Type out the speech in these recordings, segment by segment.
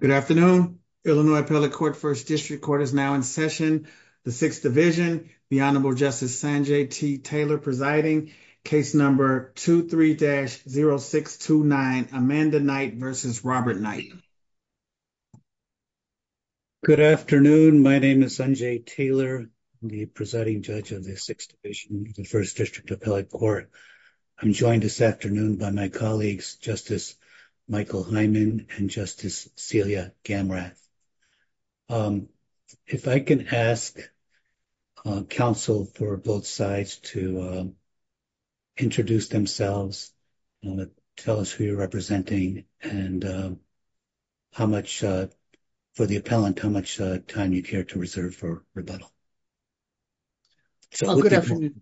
Good afternoon. Illinois Appellate Court First District Court is now in session. The Sixth Division, the Honorable Justice Sanjay T. Taylor presiding. Case number 23-0629, Amanda Knight v. Robert Knight. Good afternoon. My name is Sanjay Taylor, the presiding judge of the Sixth Division, the First District Appellate Court. I'm joined this afternoon by my colleagues, Justice Michael Hyman and Justice Celia Gamrat. If I can ask counsel for both sides to introduce themselves and tell us who you're representing and how much, for the appellant, how much time you care to reserve for rebuttal. Good afternoon.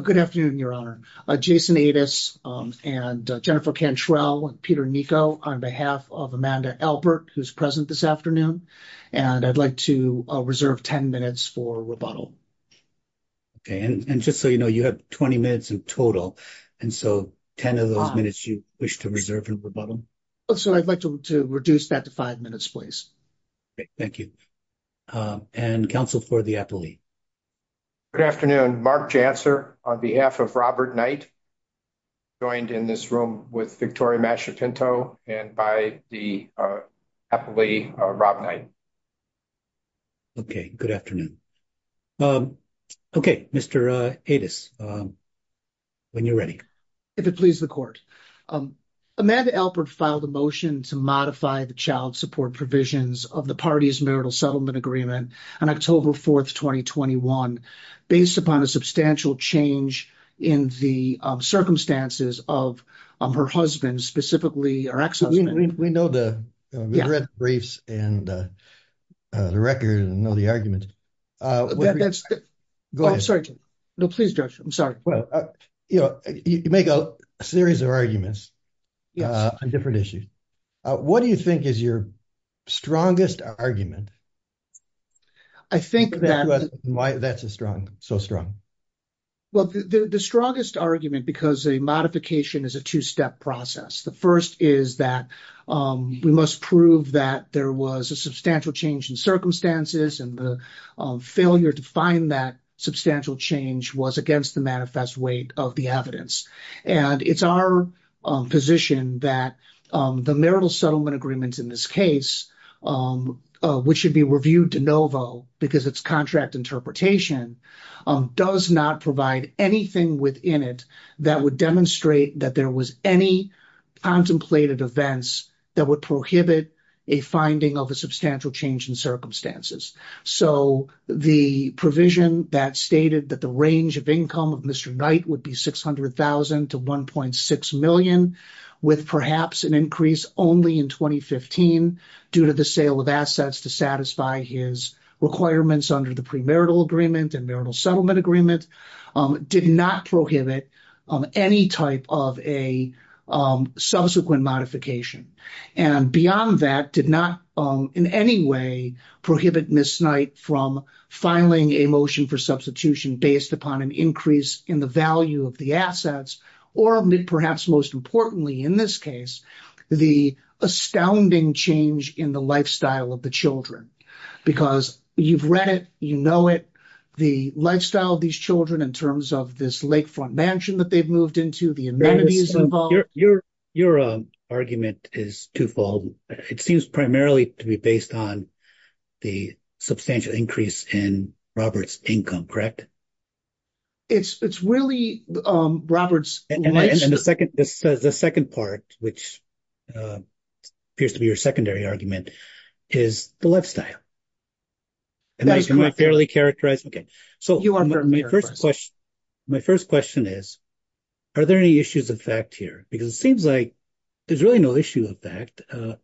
Good afternoon, Your Honor. Jason Adas and Jennifer Cantrell, Peter Niko on behalf of Amanda Albert, who's present this afternoon. And I'd like to reserve 10 minutes for rebuttal. Okay. And just so you know, you have 20 minutes in total. And so 10 of those minutes you wish to reserve for rebuttal. So I'd like to reduce that to five minutes, please. Thank you. And counsel for the appellee. Good afternoon. Mark Janser on behalf of Robert Knight, joined in this room with Victoria Masciapinto and by the appellee, Rob Knight. Okay. Good afternoon. Okay. Mr. Adas, when you're ready. If it pleases the court, Amanda Alpert filed a motion to modify the child support provisions of the party's marital settlement agreement on October 4th, 2021, based upon a substantial change in the circumstances of her husband, specifically. We know the briefs and the record and know the arguments. No, please, Judge. I'm sorry. You know, you make a series of arguments on different issues. What do you think is your strongest argument? I think that's a strong, so strong. Well, the strongest argument, because a modification is a two-step process. The first is that we must prove that there was a substantial change in circumstances and the failure to find that substantial change was against the manifest weight of the evidence. And it's our position that the marital settlement agreement in this case, which should be reviewed de novo because it's contract interpretation, does not provide anything within it that would demonstrate that there was any contemplated events that would prohibit a finding of a substantial change in circumstances. So the provision that stated that the range of income of Mr. Knight would be $600,000 to $1.6 million, with perhaps an increase only in 2015 due to the sale of assets to satisfy his requirements under the premarital agreement and marital settlement agreement, did not prohibit any type of a subsequent modification. And beyond that, did not in any way prohibit Mr. Knight from filing a motion for substitution based upon an increase in the value of the assets, or perhaps most importantly in this case, the astounding change in the lifestyle of the children. Because you've read it, you know it, the lifestyle of these children in terms of this lakefront mansion that they've moved into, the amenities involved. Your argument is twofold. It seems primarily to be based on the substantial increase in Robert's income, correct? It's really Robert's lifestyle. And the second part, which appears to be your secondary argument, is the lifestyle. Am I barely characterized? Okay. So, my first question is, are there any issues of fact here? Because it seems like there's really no issue of fact.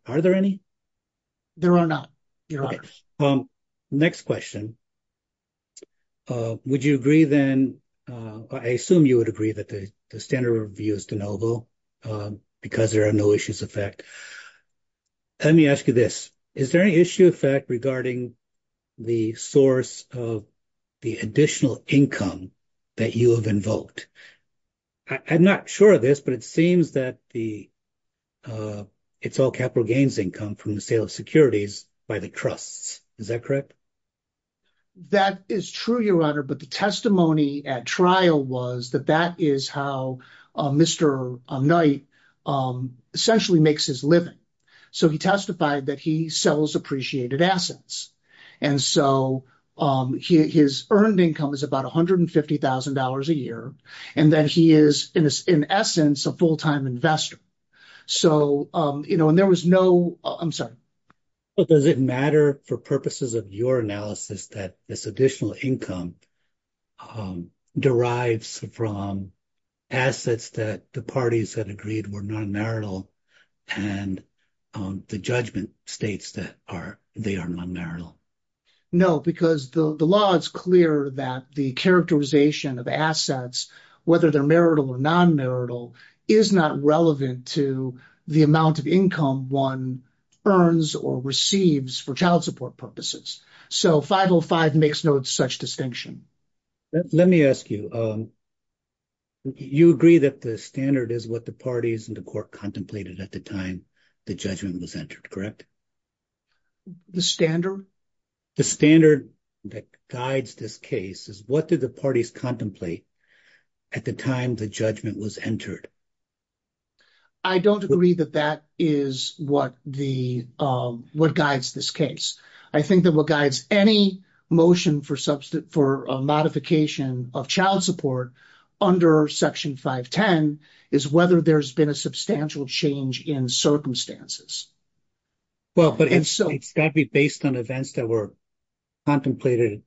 Are there any? There are not. Next question. Would you agree then, I assume you would agree that the standard review is deniable because there are no issues of fact. Let me ask you this. Is there any issue of fact regarding the source of the additional income that you have invoked? I'm not sure of this, but it seems that it's all capital gains income from the sale of securities by the trusts. Is that correct? That is true, Your Honor, but the testimony at trial was that that is how Mr. Knight essentially makes his living. So, he testified that he sells appreciated assets. And so, his earned income is about $150,000 a year, and that he is, in essence, a full-time investor. So, you know, and there was no – I'm sorry. But does it matter for purposes of your analysis that this additional income derives from assets that the parties had agreed were non-marital and the judgment states that they are non-marital? No, because the law is clear that the characterization of assets, whether they're marital or non-marital, is not relevant to the amount of income one earns or receives for child support purposes. So, 505 makes no such distinction. Let me ask you, you agree that the standard is what the parties and the court contemplated at the time the judgment was entered, correct? The standard? The standard that guides this case is what did the parties contemplate at the time the judgment was entered? I don't agree that that is what guides this case. I think that what guides any motion for a modification of child support under Section 510 is whether there's been a substantial change in circumstances. Well, but it's got to be based on events that were contemplated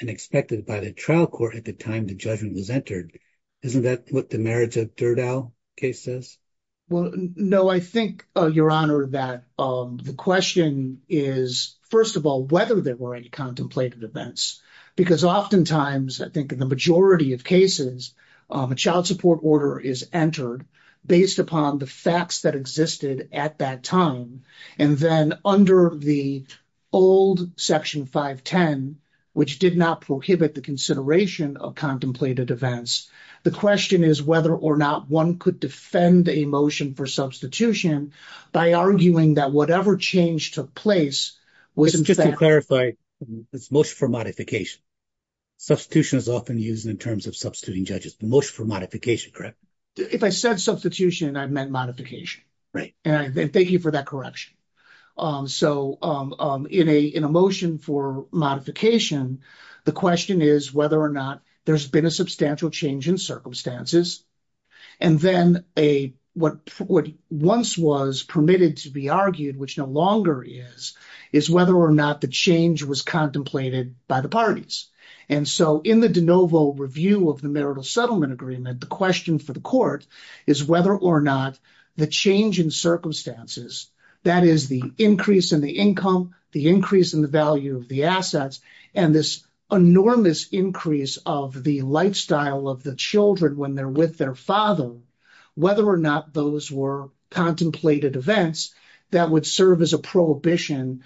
and expected by the trial court at the time the judgment was entered. Isn't that what the marriage of Dirdow case says? Well, no. I think, Your Honor, that the question is, first of all, whether there were any contemplated events. Because oftentimes, I think in the majority of cases, a child support order is entered based upon the facts that existed at that time. And then under the old Section 510, which did not prohibit the consideration of contemplated events, the question is whether or not one could defend a motion for substitution by arguing that whatever change took place was in fact- Just to clarify, it's a motion for modification. Substitution is often used in terms of substituting judges. The motion for modification, correct? If I said substitution, I meant modification. Right. And thank you for that correction. So in a motion for modification, the question is whether or not there's been a substantial change in circumstances. And then what once was permitted to be argued, which no longer is, is whether or not the change was contemplated by the parties. And so in the de novo review of the marital settlement agreement, the question for the court is whether or not the change in circumstances, that is, the increase in the income, the increase in the value of the assets, and this enormous increase of the lifestyle of the children when they're with their father, whether or not those were contemplated events that would serve as a prohibition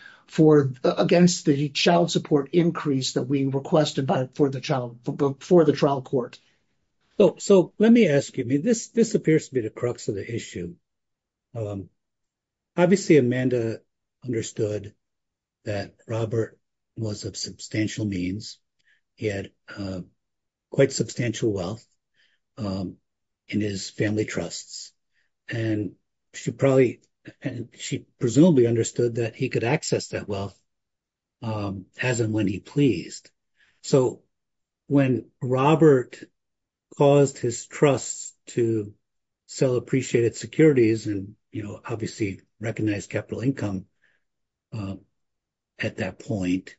against the child support increase that we requested for the trial court. So let me ask you, this appears to be the crux of the issue. Obviously, Amanda understood that Robert was of substantial means. He had quite substantial wealth in his family trusts, and she presumably understood that he could access that wealth as and when he pleased. So when Robert caused his trust to sell appreciated securities and, you know, obviously recognized capital income at that point,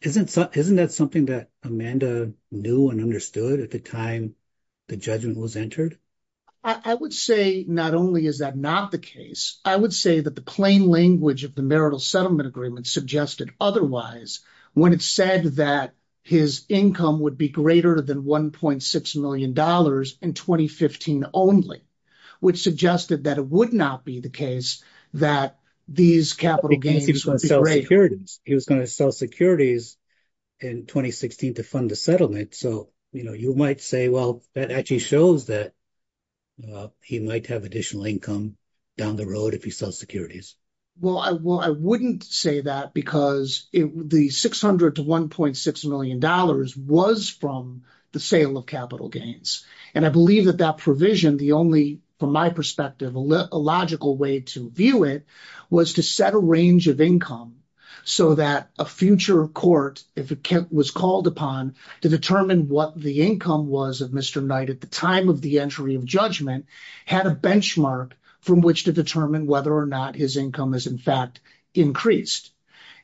isn't that something that Amanda knew and understood at the time the judgment was entered? I would say not only is that not the case, I would say that the plain language of the marital settlement agreement suggested otherwise, when it said that his income would be greater than $1.6 million in 2015 only, which suggested that it would not be the case that these capital gains would be great. He was going to sell securities in 2016 to fund the settlement. So, you know, you might say, well, that actually shows that he might have additional income down the road if he sells securities. Well, I wouldn't say that because the $600 to $1.6 million was from the sale of capital gains. And I believe that that provision, the only, from my perspective, a logical way to view it was to set a range of income so that a future court, if it was called upon to determine what the income was of Mr. Knight at the time of the entry of judgment, had a benchmark from which to determine whether or not his income is in fact increased.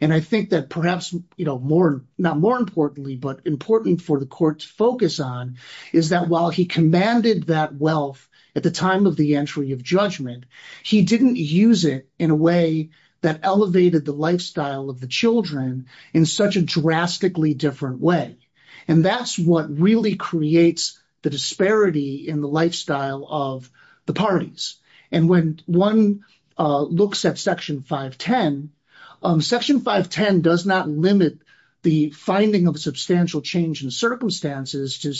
And I think that perhaps, you know, more, not more importantly, but important for the courts focus on is that while he commanded that wealth at the time of the entry of judgment, he didn't use it in a way that elevated the lifestyle of the children in such a drastically different way. And that's what really creates the disparity in the lifestyle of the parties. And when one looks at Section 510, Section 510 does not limit the finding of substantial change in circumstances to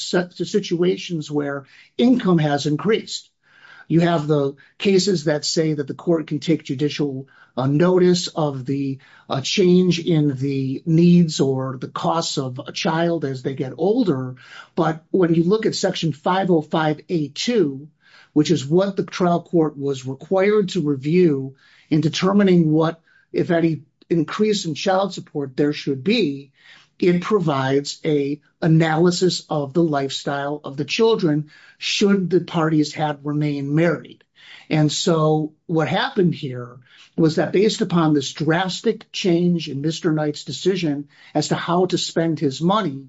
situations where income has increased. You have the cases that say that the court can take judicial notice of the change in the needs or the costs of a child as they get older. But when you look at Section 505A2, which is what the trial court was required to review in determining what, if any, increase in child support there should be, it provides an analysis of the lifestyle of the children should the parties have remained married. And so what happened here was that based upon this drastic change in Mr. Knight's decision as to how to spend his money,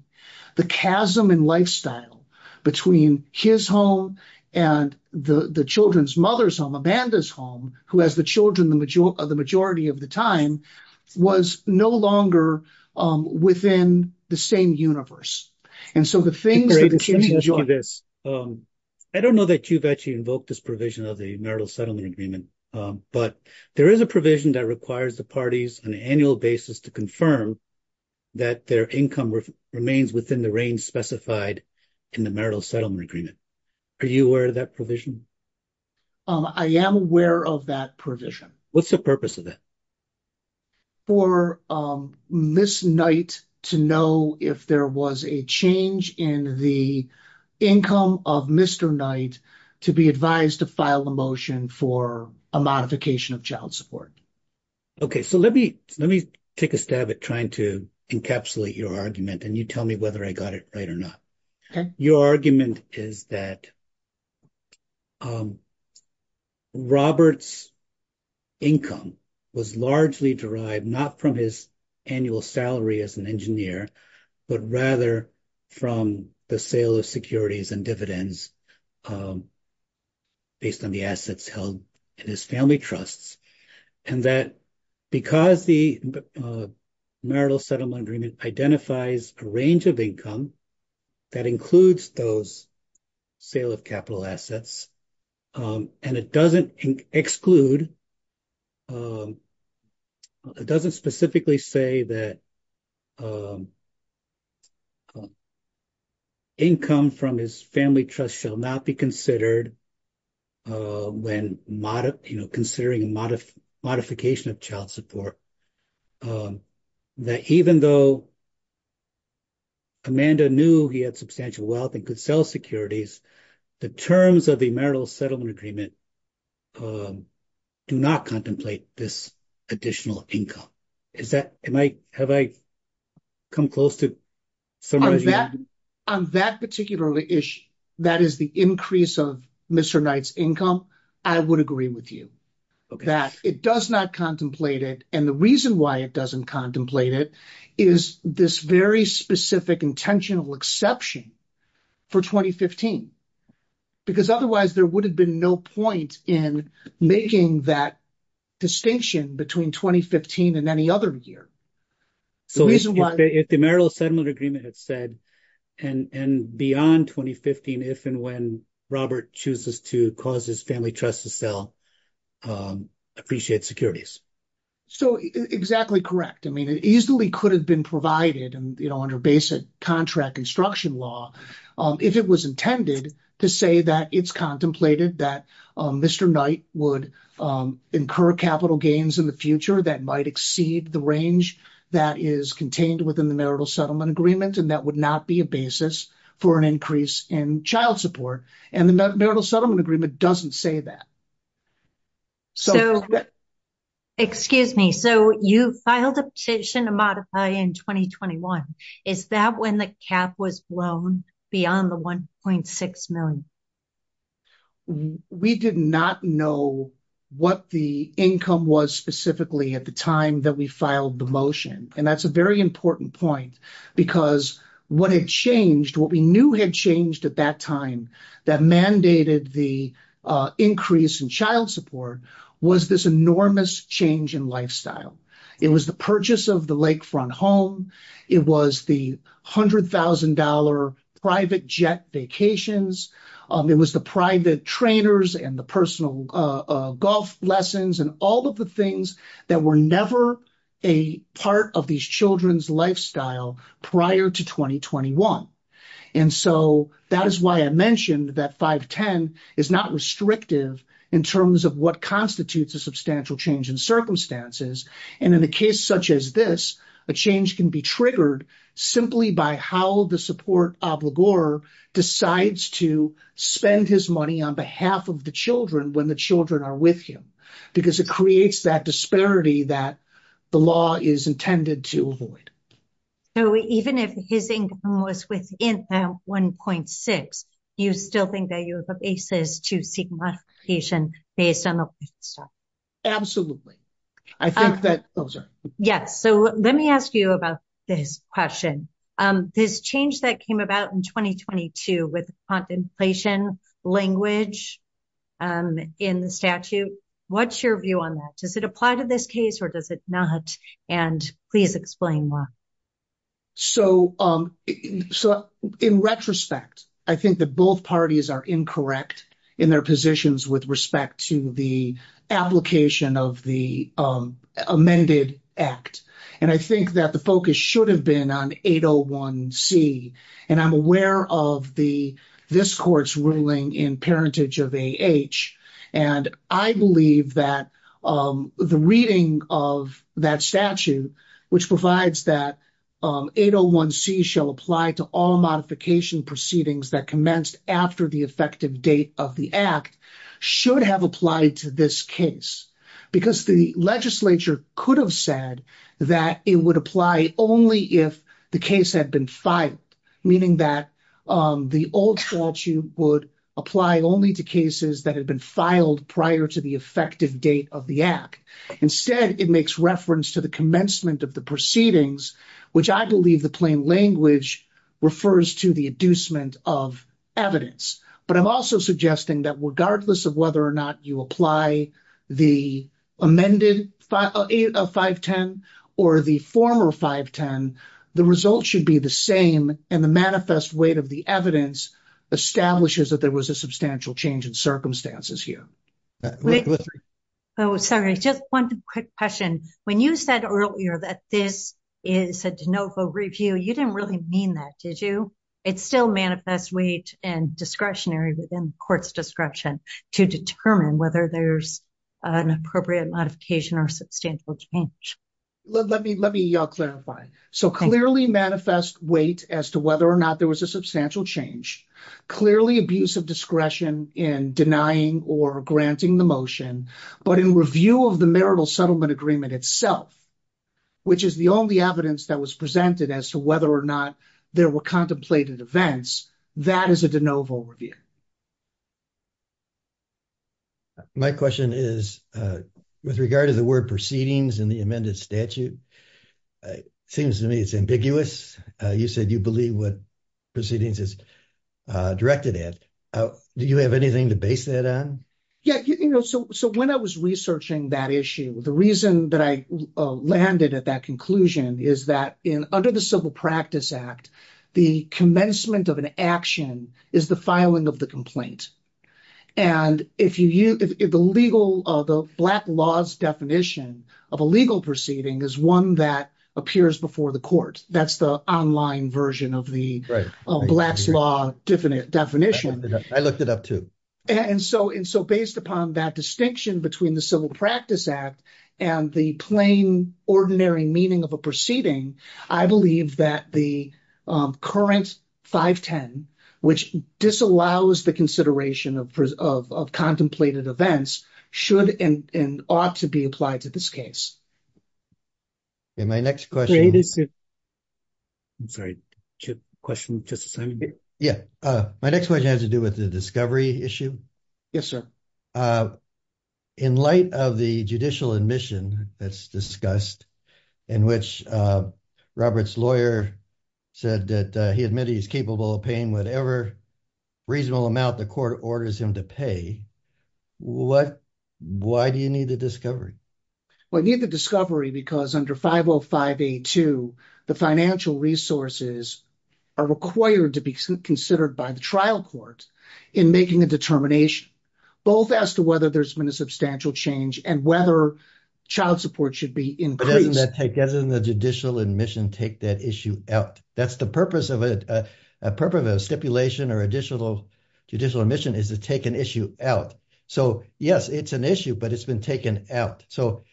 the chasm in lifestyle between his home and the children's mothers on Amanda's home, who has the children the majority of the time, was no longer within the same universe. And so the thing— I don't know that you've actually invoked this provision of the marital settlement agreement, but there is a provision that requires the parties on an annual basis to confirm that their income remains within the range specified in the marital settlement agreement. Are you aware of that provision? I am aware of that provision. What's the purpose of that? For Ms. Knight to know if there was a change in the income of Mr. Knight to be advised to file a motion for a modification of child support. Okay, so let me take a stab at trying to encapsulate your argument and you tell me whether I got it right or not. Your argument is that Robert's income was largely derived not from his annual salary as an engineer, but rather from the sale of securities and dividends based on the assets held in his family trusts. And that because the marital settlement agreement identifies a range of income that includes those sale of capital assets and it doesn't exclude—it doesn't specifically say that income from his family trust shall not be considered when, you know, considering a modification of child support, that even though Amanda knew he had substantial wealth and could sell securities, the terms of the marital settlement agreement do not contemplate this additional income. Is that—have I come close to summarizing? On that particular issue, that is the increase of Mr. Knight's income, I would agree with you. Okay. That it does not contemplate it, and the reason why it doesn't contemplate it is this very specific intentional exception for 2015, because otherwise there would have been no point in making that distinction between 2015 and any other year. The reason why— If the marital settlement agreement had said, and beyond 2015, if and when Robert chooses to cause his family trust to sell, appreciate securities. So, exactly correct. I mean, it easily could have been provided, you know, under basic contract instruction law, if it was intended to say that it's contemplated that Mr. Knight would incur capital gains in the future that might exceed the range that is contained within the marital settlement agreement, and that would not be a basis for an increase in child support. And the marital settlement agreement doesn't say that. So, excuse me. So, you filed a petition to modify in 2021. Is that when the cap was blown beyond the $1.6 million? We did not know what the income was specifically at the time that we filed the motion. And that's a very important point because what had changed, what we knew had changed at that time that mandated the increase in child support was this enormous change in lifestyle. It was the purchase of the lakefront home. It was the $100,000 private jet vacations. It was the private trainers and the personal golf lessons and all of the things that were never a part of these children's lifestyle prior to 2021. And so, that is why I mentioned that 510 is not restrictive in terms of what constitutes a substantial change in circumstances. And in a case such as this, a change can be triggered simply by how the support obligor decides to spend his money on behalf of the children when the children are with him. Because it creates that disparity that the law is intended to avoid. So, even if his income was within $1.6, do you still think that you have a basis to seek modification based on the process? Absolutely. Yes. So, let me ask you about this question. This change that came about in 2022 with compensation language in the statute, what's your view on that? Does it apply to this case or does it not? And please explain why. So, in retrospect, I think that both parties are incorrect in their positions with respect to the application of the amended act. And I think that the focus should have been on 801C. And I'm aware of this court's ruling in parentage of AH. And I believe that the reading of that statute, which provides that 801C shall apply to all modification proceedings that commenced after the effective date of the act, should have applied to this case. Because the legislature could have said that it would apply only if the case had been filed. Meaning that the old statute would apply only to cases that had been filed prior to the effective date of the act. Instead, it makes reference to the commencement of the proceedings, which I believe the plain language refers to the inducement of evidence. But I'm also suggesting that regardless of whether or not you apply the amended 510 or the former 510, the results should be the same. And the manifest weight of the evidence establishes that there was a substantial change in circumstances here. Sorry, just one quick question. When you said earlier that this is a de novo review, you didn't really mean that, did you? It still manifests weight and discretionary within the court's description to determine whether there's an appropriate modification or substantial change. Let me clarify. So clearly manifest weight as to whether or not there was a substantial change. Clearly abuse of discretion in denying or granting the motion. But in review of the marital settlement agreement itself, which is the only evidence that was presented as to whether or not there were contemplated events, that is a de novo review. My question is, with regard to the word proceedings and the amended statute, seems to me it's ambiguous. You said you believe what proceedings is directed at. Do you have anything to base that on? Yeah. So when I was researching that issue, the reason that I landed at that conclusion is that under the Civil Practice Act, the commencement of an action is the filing of the complaint. And the black law's definition of a legal proceeding is one that appears before the court. That's the online version of the black law definition. I looked it up, too. And so based upon that distinction between the Civil Practice Act and the plain, ordinary meaning of a proceeding, I believe that the current 510, which disallows the consideration of contemplated events, should and ought to be applied to this case. My next question has to do with the discovery issue. Yes, sir. In light of the judicial admission that's discussed, in which Robert's lawyer said that he admitted he's capable of paying whatever reasonable amount the court orders him to pay, why do you need the discovery? We need the discovery because under 505A2, the financial resources are required to be considered by the trial court in making a determination, both as to whether there's been a substantial change and whether child support should be increased. Doesn't the judicial admission take that issue out? That's the purpose of a stipulation or judicial admission is to take an issue out. So, yes, it's an issue, but it's been taken out. So,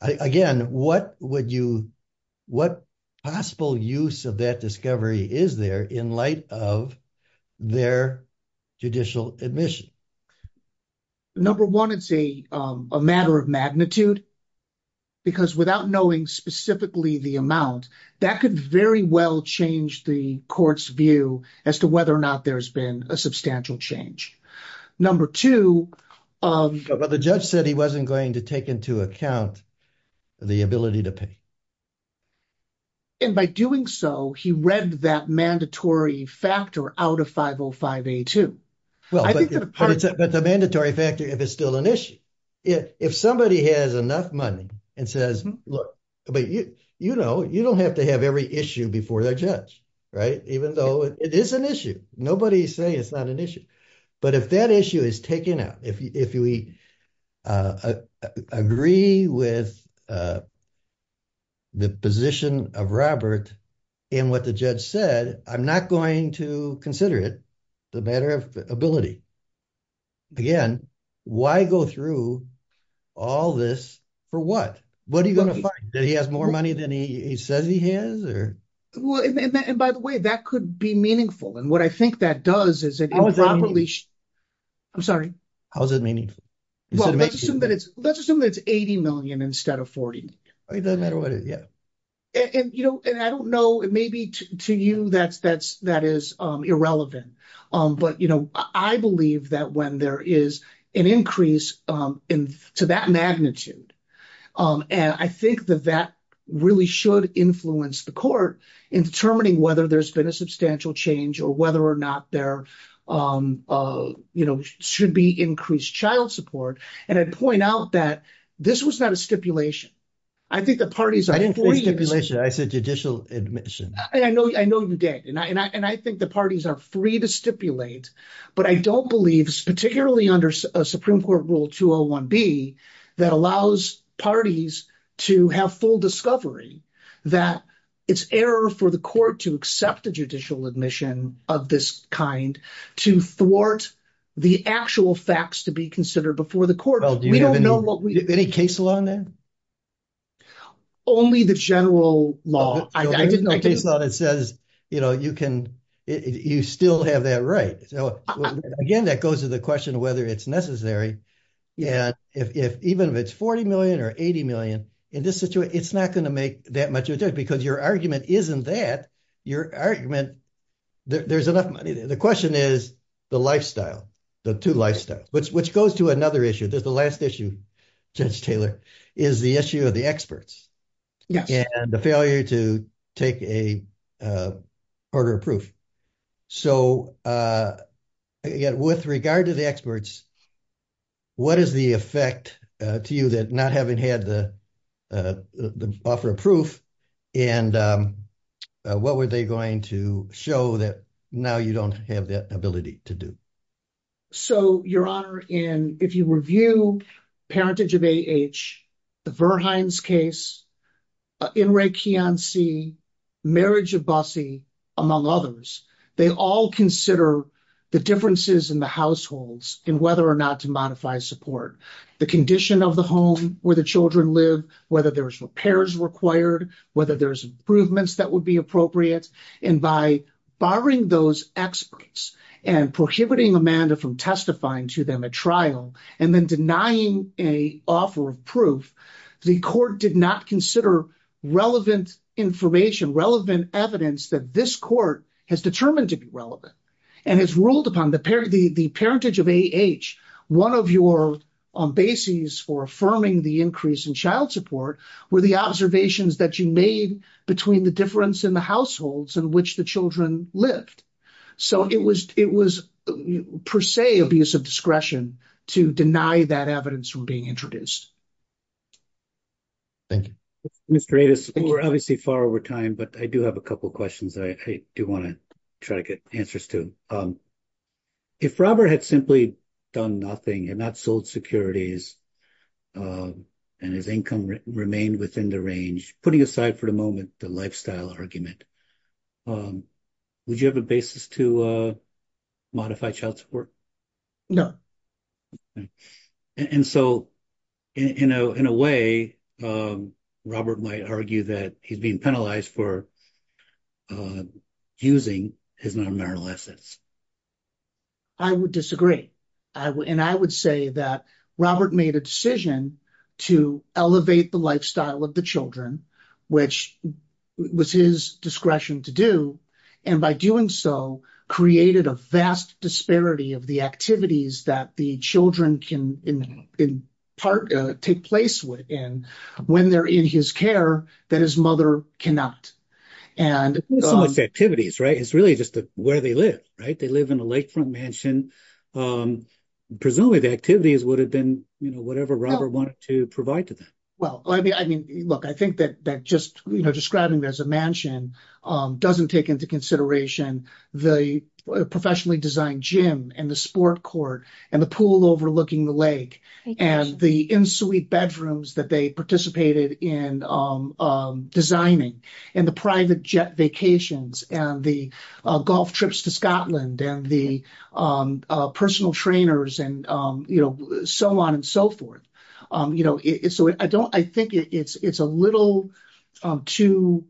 again, what would you – what possible use of that discovery is there in light of their judicial admission? Number one, it's a matter of magnitude because without knowing specifically the amount, that could very well change the court's view as to whether or not there's been a substantial change. Number two – But the judge said he wasn't going to take into account the ability to pay. And by doing so, he read that mandatory factor out of 505A2. But the mandatory factor if it's still an issue. If somebody has enough money and says – you know, you don't have to have every issue before the judge, right, even though it is an issue. Nobody say it's not an issue. But if that issue is taken out, if we agree with the position of Robert in what the judge said, I'm not going to consider it a matter of ability. Again, why go through all this for what? What are you going to find? That he has more money than he says he has or – Well, and by the way, that could be meaningful. And what I think that does is it improperly – How is it meaningful? I'm sorry? How is it meaningful? Well, let's assume that it's 80 million instead of 40. It doesn't matter what it is, yeah. And, you know, I don't know. Maybe to you that is irrelevant. But, you know, I believe that when there is an increase to that magnitude, and I think that that really should influence the court in determining whether there's been a substantial change or whether or not there should be increased child support. And I'd point out that this was not a stipulation. I think the parties are – I didn't say stipulation. I said judicial admission. I know you did. And I think the parties are free to stipulate, but I don't believe, particularly under Supreme Court Rule 201B, that allows parties to have full discovery that it's error for the court to accept the judicial admission of this kind to thwart the actual facts to be considered before the court. We don't know what we – Any case law in there? Only the general law. There is no case law that says, you know, you can – you still have that right. So, again, that goes to the question of whether it's necessary. And even if it's 40 million or 80 million, in this situation, it's not going to make that much of a difference because your argument isn't that. Your argument – there's enough – the question is the lifestyle, the two lifestyles, which goes to another issue. The last issue, Judge Taylor, is the issue of the experts and the failure to take a order of proof. So, again, with regard to the experts, what is the effect to you that not having had the offer of proof and what were they going to show that now you don't have the ability to do? So, Your Honor, in – if you review parentage of AH, the Verhines case, NREG-KEON-C, marriage of Bossie, among others, they all consider the differences in the households in whether or not to modify support. The condition of the home where the children live, whether there's repairs required, whether there's improvements that would be appropriate. And by barring those experts and prohibiting Amanda from testifying to them at trial and then denying an offer of proof, the court did not consider relevant information, relevant evidence that this court has determined to be relevant. And it's ruled upon – the parentage of AH, one of your bases for affirming the increase in child support were the observations that you made between the difference in the households in which the children lived. So, it was per se abuse of discretion to deny that evidence from being introduced. Thank you. Mr. Avis, we're obviously far over time, but I do have a couple of questions that I do want to try to get answers to. If Robert had simply done nothing and not sold securities and his income remained within the range, putting aside for the moment the lifestyle argument, would you have a basis to modify child support? No. And so, in a way, Robert might argue that he's being penalized for using his non-marital assets. I would disagree. And I would say that Robert made a decision to elevate the lifestyle of the children, which was his discretion to do, and by doing so, created a vast disparity of the activities that the children can take place in when they're in his care that his mother cannot. It's not so much the activities, right? It's really just where they live, right? They live in a lakefront mansion. Presumably, the activities would have been whatever Robert wanted to provide to them. Look, I think that just describing it as a mansion doesn't take into consideration the professionally designed gym and the sport court and the pool overlooking the lake and the insulate bedrooms that they participated in designing and the private jet vacations and the golf trips to Scotland and the personal trainers and so on and so forth. So, I think it's a little too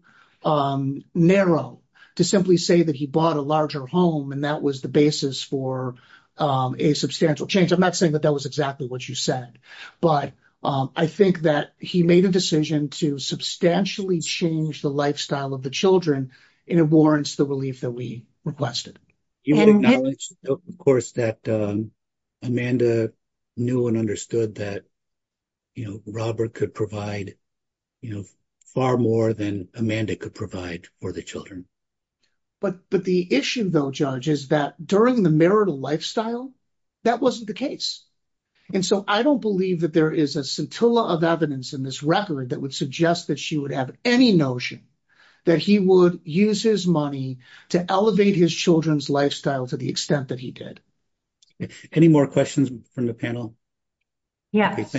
narrow to simply say that he bought a larger home and that was the basis for a substantial change. I'm not saying that that was exactly what you said, but I think that he made a decision to substantially change the lifestyle of the children, and it warrants the relief that we requested. Of course, Amanda knew and understood that Robert could provide far more than Amanda could provide for the children. But the issue, though, Judge, is that during the marital lifestyle, that wasn't the case. And so, I don't believe that there is a scintilla of evidence in this record that would suggest that she would have any notion that he would use his money to elevate his children's lifestyle to the extent that he did. Any more questions from the panel? Yes.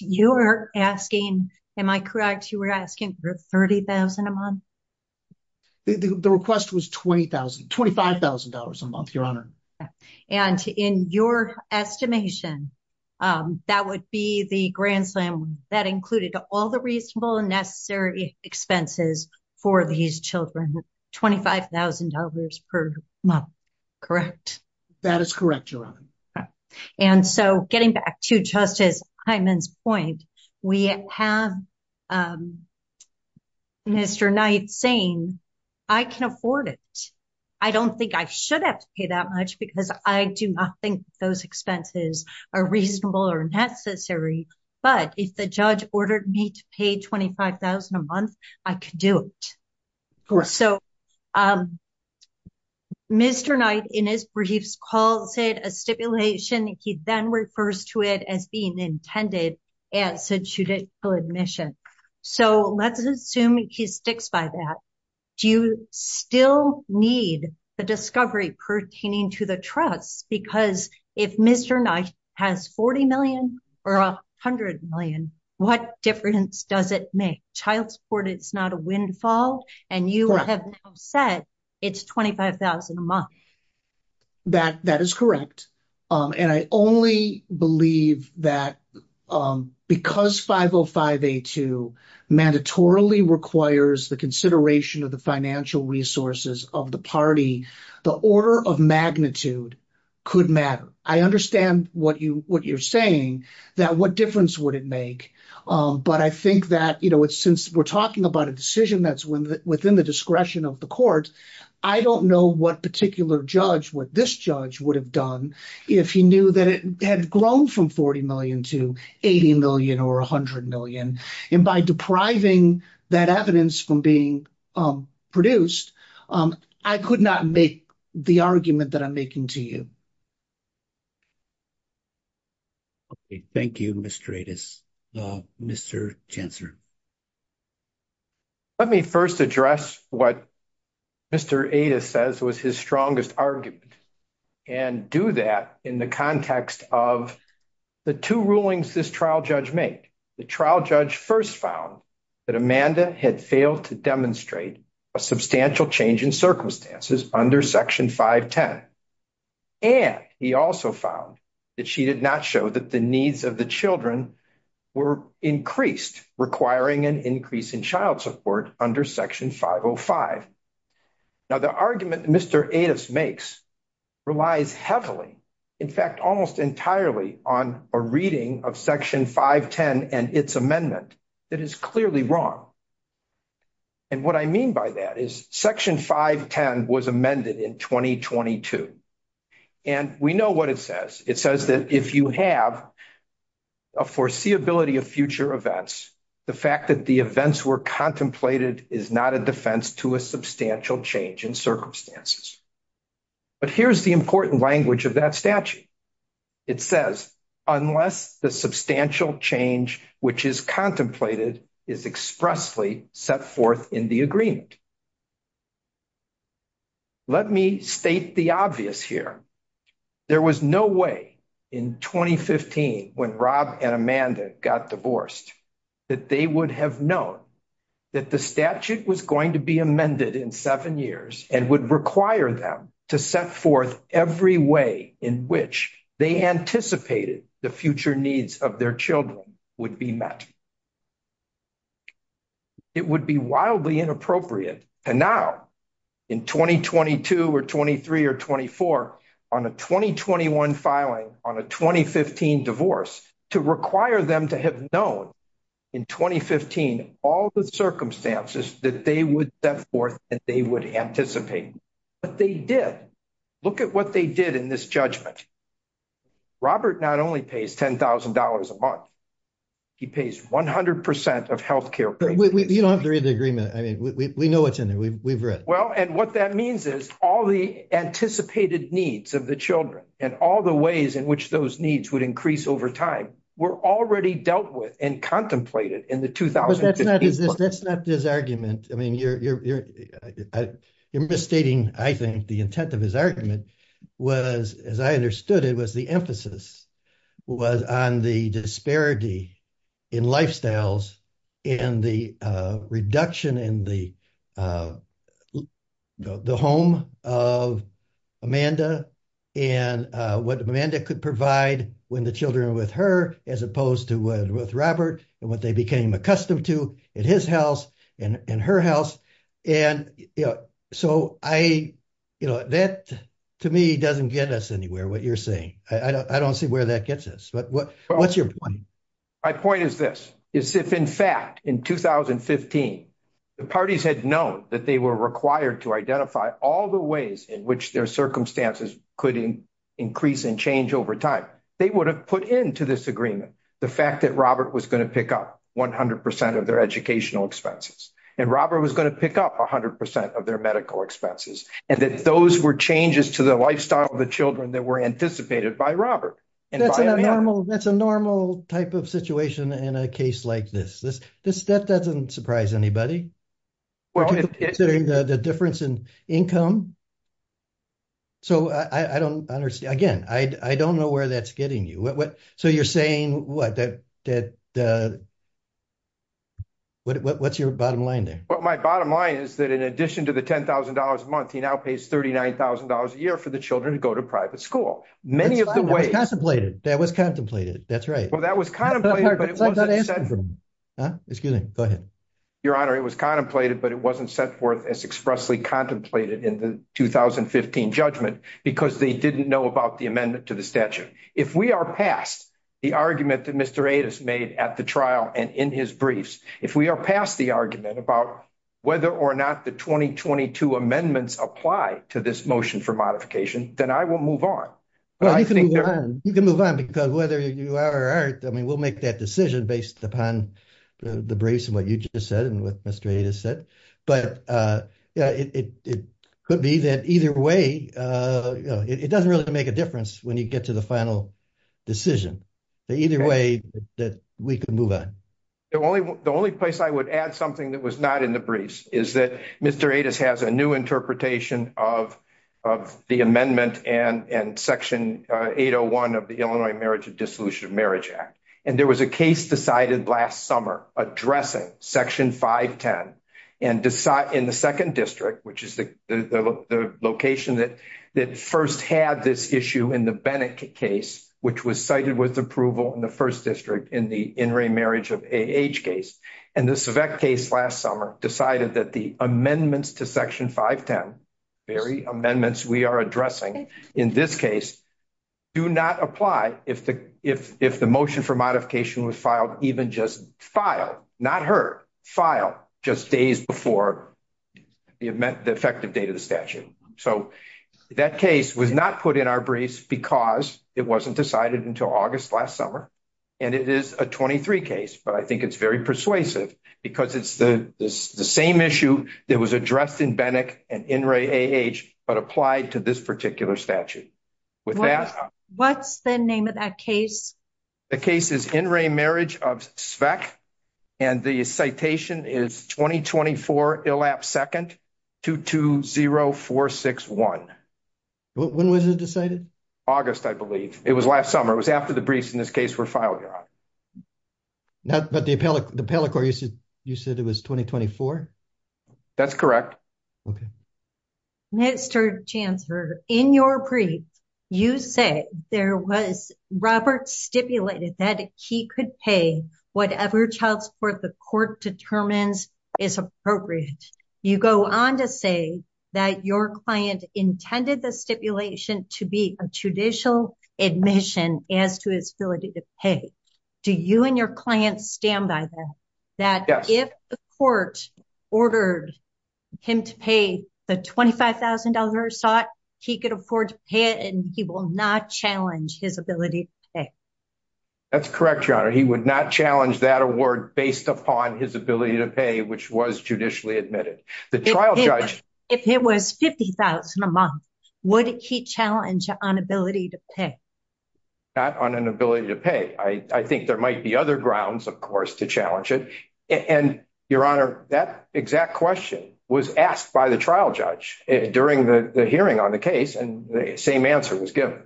You're asking, am I correct, you were asking for $30,000 a month? The request was $20,000, $25,000 a month, Your Honor. And in your estimation, that would be the grant that included all the reasonable and necessary expenses for these children, $25,000 per month, correct? That is correct, Your Honor. And so, getting back to Justice Hyman's point, we have Mr. Knight saying, I can afford it. I don't think I should have to pay that much because I do not think those expenses are reasonable or necessary. But if the judge ordered me to pay $25,000 a month, I could do it. So, Mr. Knight, in his briefs, calls it a stipulation. He then refers to it as being intended as a judicial admission. So, let's assume he sticks by that. Do you still need a discovery pertaining to the truck? Because if Mr. Knight has $40 million or $100 million, what difference does it make? Child support is not a windfall, and you have said it's $25,000 a month. That is correct. And I only believe that because 505A2 mandatorily requires the consideration of the financial resources of the party, the order of magnitude could matter. I understand what you're saying, that what difference would it make? But I think that, you know, since we're talking about a decision that's within the discretion of the court, I don't know what particular judge, what this judge would have done if he knew that it had grown from $40 million to $80 million or $100 million. And by depriving that evidence from being produced, I could not make the argument that I'm making to you. Okay, thank you, Mr. Adas. Mr. Chancellor. Let me first address what Mr. Adas says was his strongest argument and do that in the context of the two rulings this trial judge made. The trial judge first found that Amanda had failed to demonstrate a substantial change in circumstances under Section 510. And he also found that she did not show that the needs of the children were increased, requiring an increase in child support under Section 505. Now, the argument Mr. Adas makes relies heavily, in fact, almost entirely on a reading of Section 510 and its amendment that is clearly wrong. And what I mean by that is Section 510 was amended in 2022. And we know what it says. It says that if you have a foreseeability of future events, the fact that the events were contemplated is not a defense to a substantial change in circumstances. But here's the important language of that statute. It says, unless the substantial change which is contemplated is expressly set forth in the agreement. Let me state the obvious here. There was no way in 2015 when Rob and Amanda got divorced that they would have known that the statute was going to be amended in seven years and would require them to set forth every way in which they anticipated the future needs of their children would be met. It would be wildly inappropriate to now, in 2022 or 23 or 24, on a 2021 filing, on a 2015 divorce, to require them to have known in 2015 all the circumstances that they would set forth and they would anticipate. But they did. Look at what they did in this judgment. Robert not only pays $10,000 a month, he pays 100% of healthcare premiums. You don't have to read the agreement. I mean, we know what's in there. We've read. Well, and what that means is all the anticipated needs of the children and all the ways in which those needs would increase over time were already dealt with and contemplated in the 2015… But that's not his argument. I mean, you're overstating, I think, the intent of his argument was, as I understood it, was the emphasis was on the disparity in lifestyles and the reduction in the home of Amanda and what Amanda could provide when the children were with her as opposed to with Robert and what they became accustomed to in his house. In her house. And, you know, so I, you know, that to me doesn't get us anywhere, what you're saying. I don't see where that gets us. But what's your point? My point is this. Is if, in fact, in 2015, the parties had known that they were required to identify all the ways in which their circumstances could increase and change over time, they would have put into this agreement the fact that Robert was going to pick up 100% of their educational expenses. And Robert was going to pick up 100% of their medical expenses. And that those were changes to the lifestyle of the children that were anticipated by Robert. That's a normal type of situation in a case like this. That doesn't surprise anybody. Considering the difference in income. So I don't understand. Again, I don't know where that's getting you. So you're saying what? What's your bottom line there? My bottom line is that in addition to the $10,000 a month, he now pays $39,000 a year for the children to go to private school. That was contemplated. That was contemplated. That's right. Well, that was contemplated. Excuse me. Go ahead. Your Honor, it was contemplated, but it wasn't set forth as expressly contemplated in the 2015 judgment because they didn't know about the amendment to the statute. If we are past the argument that Mr. Adas made at the trial and in his briefs, if we are past the argument about whether or not the 2022 amendments apply to this motion for modification, then I will move on. You can move on because whether you are or aren't, I mean, we'll make that decision based upon the briefs and what you just said and what Mr. Adas said. But it could be that either way, it doesn't really make a difference when you get to the final decision. Either way, we can move on. The only place I would add something that was not in the briefs is that Mr. Adas has a new interpretation of the amendment and Section 801 of the Illinois Marriage and Dissolution of Marriage Act. And there was a case decided last summer addressing Section 510 in the 2nd District, which is the location that first had this issue in the Bennett case, which was cited with approval in the 1st District in the in-ring marriage of AH case. And this case last summer decided that the amendments to Section 510, very amendments we are addressing in this case, do not apply if the motion for modification was filed, even just filed, not heard, filed just days before the effective date of the statute. So, that case was not put in our briefs because it wasn't decided until August last summer, and it is a 23 case, but I think it's very persuasive because it's the same issue that was addressed in Bennett and in-ring AH, but applied to this particular statute. What's the name of that case? The case is in-ring marriage of SVEC, and the citation is 2024, elapsed 2nd, 220461. When was it decided? August, I believe. It was last summer. It was after the briefs in this case were filed. But the appellate court, you said it was 2024? That's correct. Mr. Chancellor, in your brief, you say there was, Robert stipulated that he could pay whatever child support the court determined is appropriate. You go on to say that your client intended the stipulation to be a judicial admission as to its ability to pay. Do you and your client stand by that? Yes. That if the court ordered him to pay the $25,000, he could afford to pay it, and he will not challenge his ability to pay? That's correct, Your Honor. He would not challenge that award based upon his ability to pay, which was judicially admitted. If it was $50,000 a month, would he challenge on ability to pay? Not on an ability to pay. I think there might be other grounds, of course, to challenge it. And, Your Honor, that exact question was asked by the trial judge during the hearing on the case, and the same answer was given.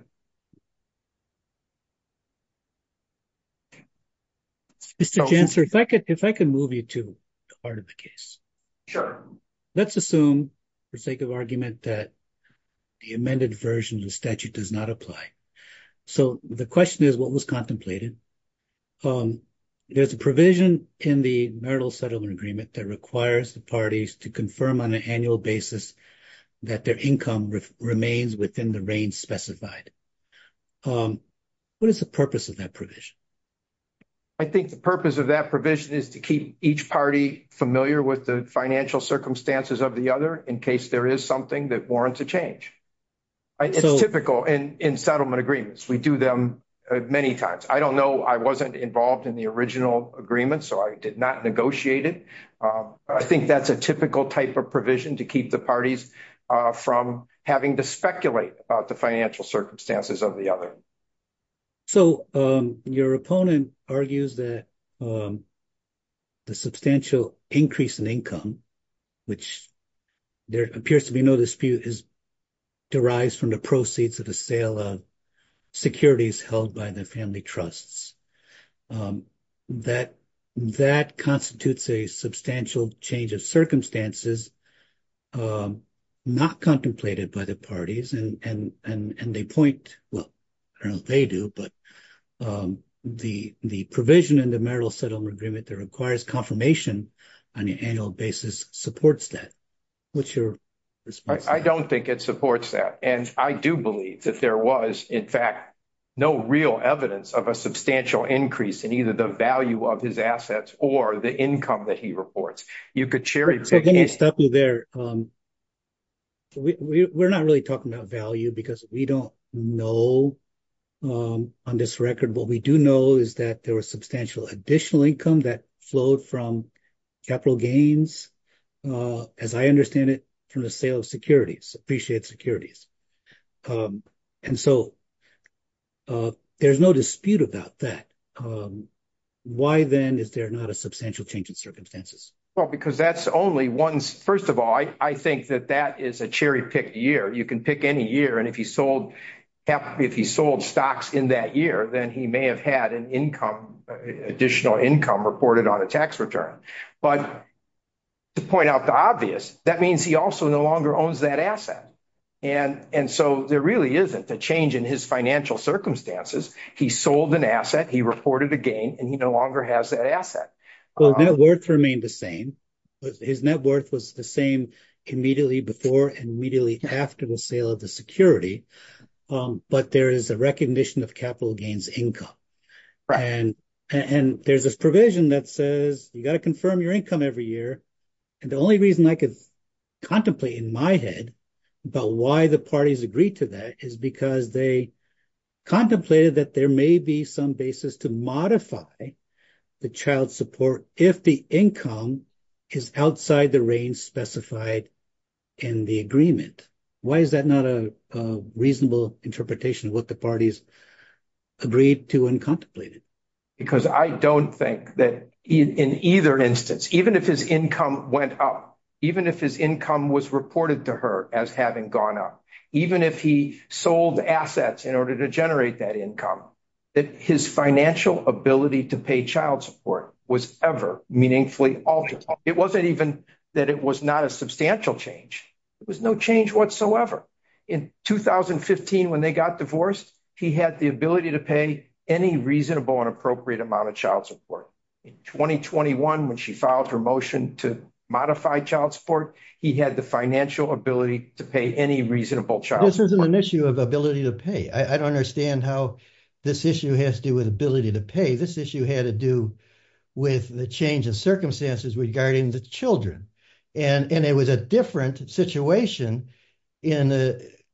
Mr. Chancellor, if I could move you to part of the case. Sure. Let's assume, for sake of argument, that the amended version of the statute does not apply. So the question is, what was contemplated? There's a provision in the marital settlement agreement that requires the parties to confirm on an annual basis that their income remains within the range specified. What is the purpose of that provision? I think the purpose of that provision is to keep each party familiar with the financial circumstances of the other in case there is something that warrants a change. It's typical in settlement agreements. We do them many times. I don't know. I wasn't involved in the original agreement, so I did not negotiate it. I think that's a typical type of provision to keep the parties from having to speculate about the financial circumstances of the other. So your opponent argues that the substantial increase in income, which there appears to be no dispute, is derived from the proceeds of the sale of securities held by the family trusts. That constitutes a substantial change of circumstances not contemplated by the parties. And they point, well, I don't know if they do, but the provision in the marital settlement agreement that requires confirmation on an annual basis supports that. What's your response? I don't think it supports that, and I do believe that there was, in fact, no real evidence of a substantial increase in either the value of his assets or the income that he reports. You could share your take on it. We're not really talking about value because we don't know on this record. What we do know is that there was substantial additional income that flowed from capital gains, as I understand it, from the sale of securities, appreciated securities. And so there's no dispute about that. Why, then, is there not a substantial change in circumstances? Well, because that's only one, first of all, I think that that is a cherry-picked year. You can pick any year, and if he sold stocks in that year, then he may have had an additional income reported on a tax return. But to point out the obvious, that means he also no longer owns that asset. And so there really isn't a change in his financial circumstances. He sold an asset, he reported a gain, and he no longer has that asset. Well, net worth remained the same. His net worth was the same immediately before and immediately after the sale of the security. But there is a recognition of capital gains income. And there's a provision that says you've got to confirm your income every year. And the only reason I could contemplate in my head about why the parties agreed to that is because they contemplated that there may be some basis to modify the child support if the income is outside the range specified in the agreement. Why is that not a reasonable interpretation of what the parties agreed to and contemplated? Because I don't think that in either instance, even if his income went up, even if his income was reported to her as having gone up, even if he sold assets in order to generate that income, that his financial ability to pay child support was ever meaningfully altered. It wasn't even that it was not a substantial change. It was no change whatsoever. In 2015, when they got divorced, he had the ability to pay any reasonable and appropriate amount of child support. In 2021, when she filed her motion to modify child support, he had the financial ability to pay any reasonable child support. This isn't an issue of ability to pay. I don't understand how this issue has to do with ability to pay. This issue had to do with the change of circumstances regarding the children. It was a different situation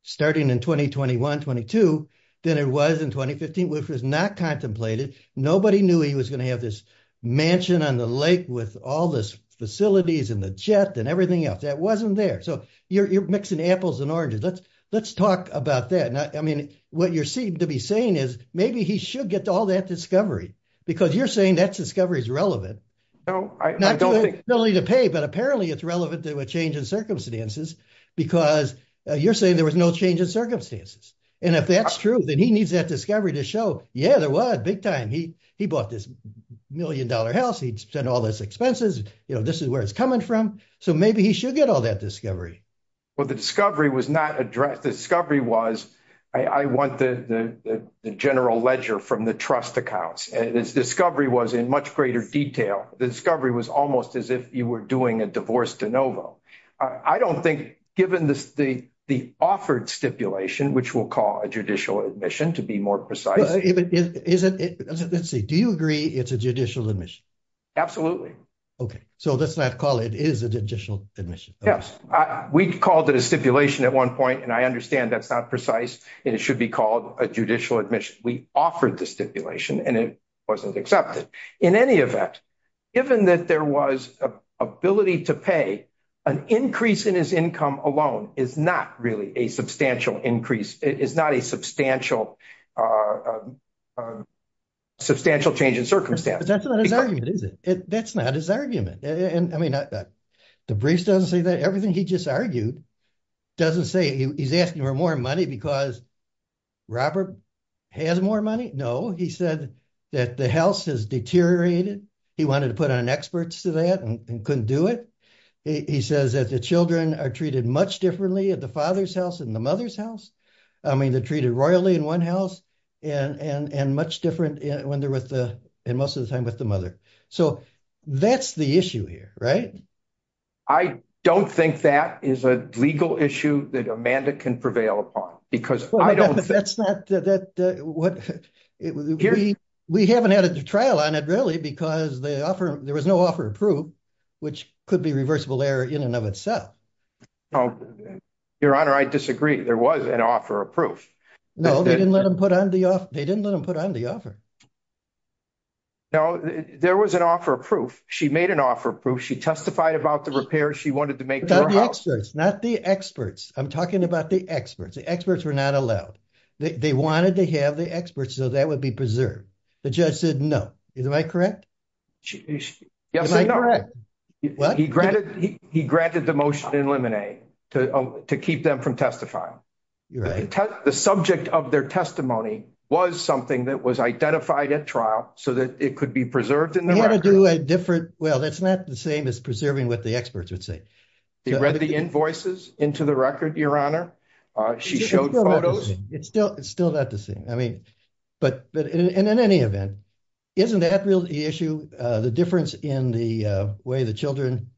starting in 2021-22 than it was in 2015. If it was not contemplated, nobody knew he was going to have this mansion on the lake with all the facilities and the jet and everything else. That wasn't there. You're mixing apples and oranges. Let's talk about that. What you seem to be saying is maybe he should get all that discovery because you're saying that discovery is relevant. Not the ability to pay, but apparently it's relevant to a change in circumstances because you're saying there was no change in circumstances. If that's true, then he needs that discovery to show, yeah, there was big time. He bought this million-dollar house. He spent all his expenses. This is where it's coming from. Maybe he should get all that discovery. The discovery was not addressed. The discovery was I want the general ledger from the trust accounts. The discovery was in much greater detail. The discovery was almost as if you were doing a divorce de novo. I don't think given the offered stipulation, which we'll call a judicial admission to be more precise. Let's see. Do you agree it's a judicial admission? Absolutely. Okay. So let's not call it. It is a judicial admission. Yes. We called it a stipulation at one point, and I understand that's not precise and it should be called a judicial admission. We offered the stipulation, and it wasn't accepted. In any event, given that there was an ability to pay, an increase in his income alone is not really a substantial increase. It's not a substantial change in circumstance. That's not his argument, is it? That's not his argument. I mean, DeVries doesn't say that. Everything he just argued doesn't say he's asking for more money because Robert has more money. No. He said that the house has deteriorated. He wanted to put on experts to that and couldn't do it. He says that the children are treated much differently at the father's house and the mother's house. I mean, they're treated royally in one house and much different when they're with the, most of the time, with the mother. So that's the issue here, right? I don't think that is a legal issue that a mandate can prevail upon because I don't. That's not what we haven't had a trial on it, really, because the offer, there was no offer approved, which could be reversible error in and of itself. Your Honor, I disagree. There was an offer approved. No, they didn't let him put on the offer. They didn't let him put on the offer. No, there was an offer approved. She made an offer approved. She testified about the repairs she wanted to make to her house. Not the experts. I'm talking about the experts. The experts were not allowed. They wanted to have the experts so that would be preserved. The judge said no. Am I correct? Yes, you're correct. What? He granted the motion in limine to keep them from testifying. You're right. The subject of their testimony was something that was identified at trial so that it could be preserved in the record. Well, that's not the same as preserving what the experts would say. They read the invoices into the record, Your Honor. She showed photos. It's still not the same. I mean, but in any event, isn't that really the issue, the difference in the way the children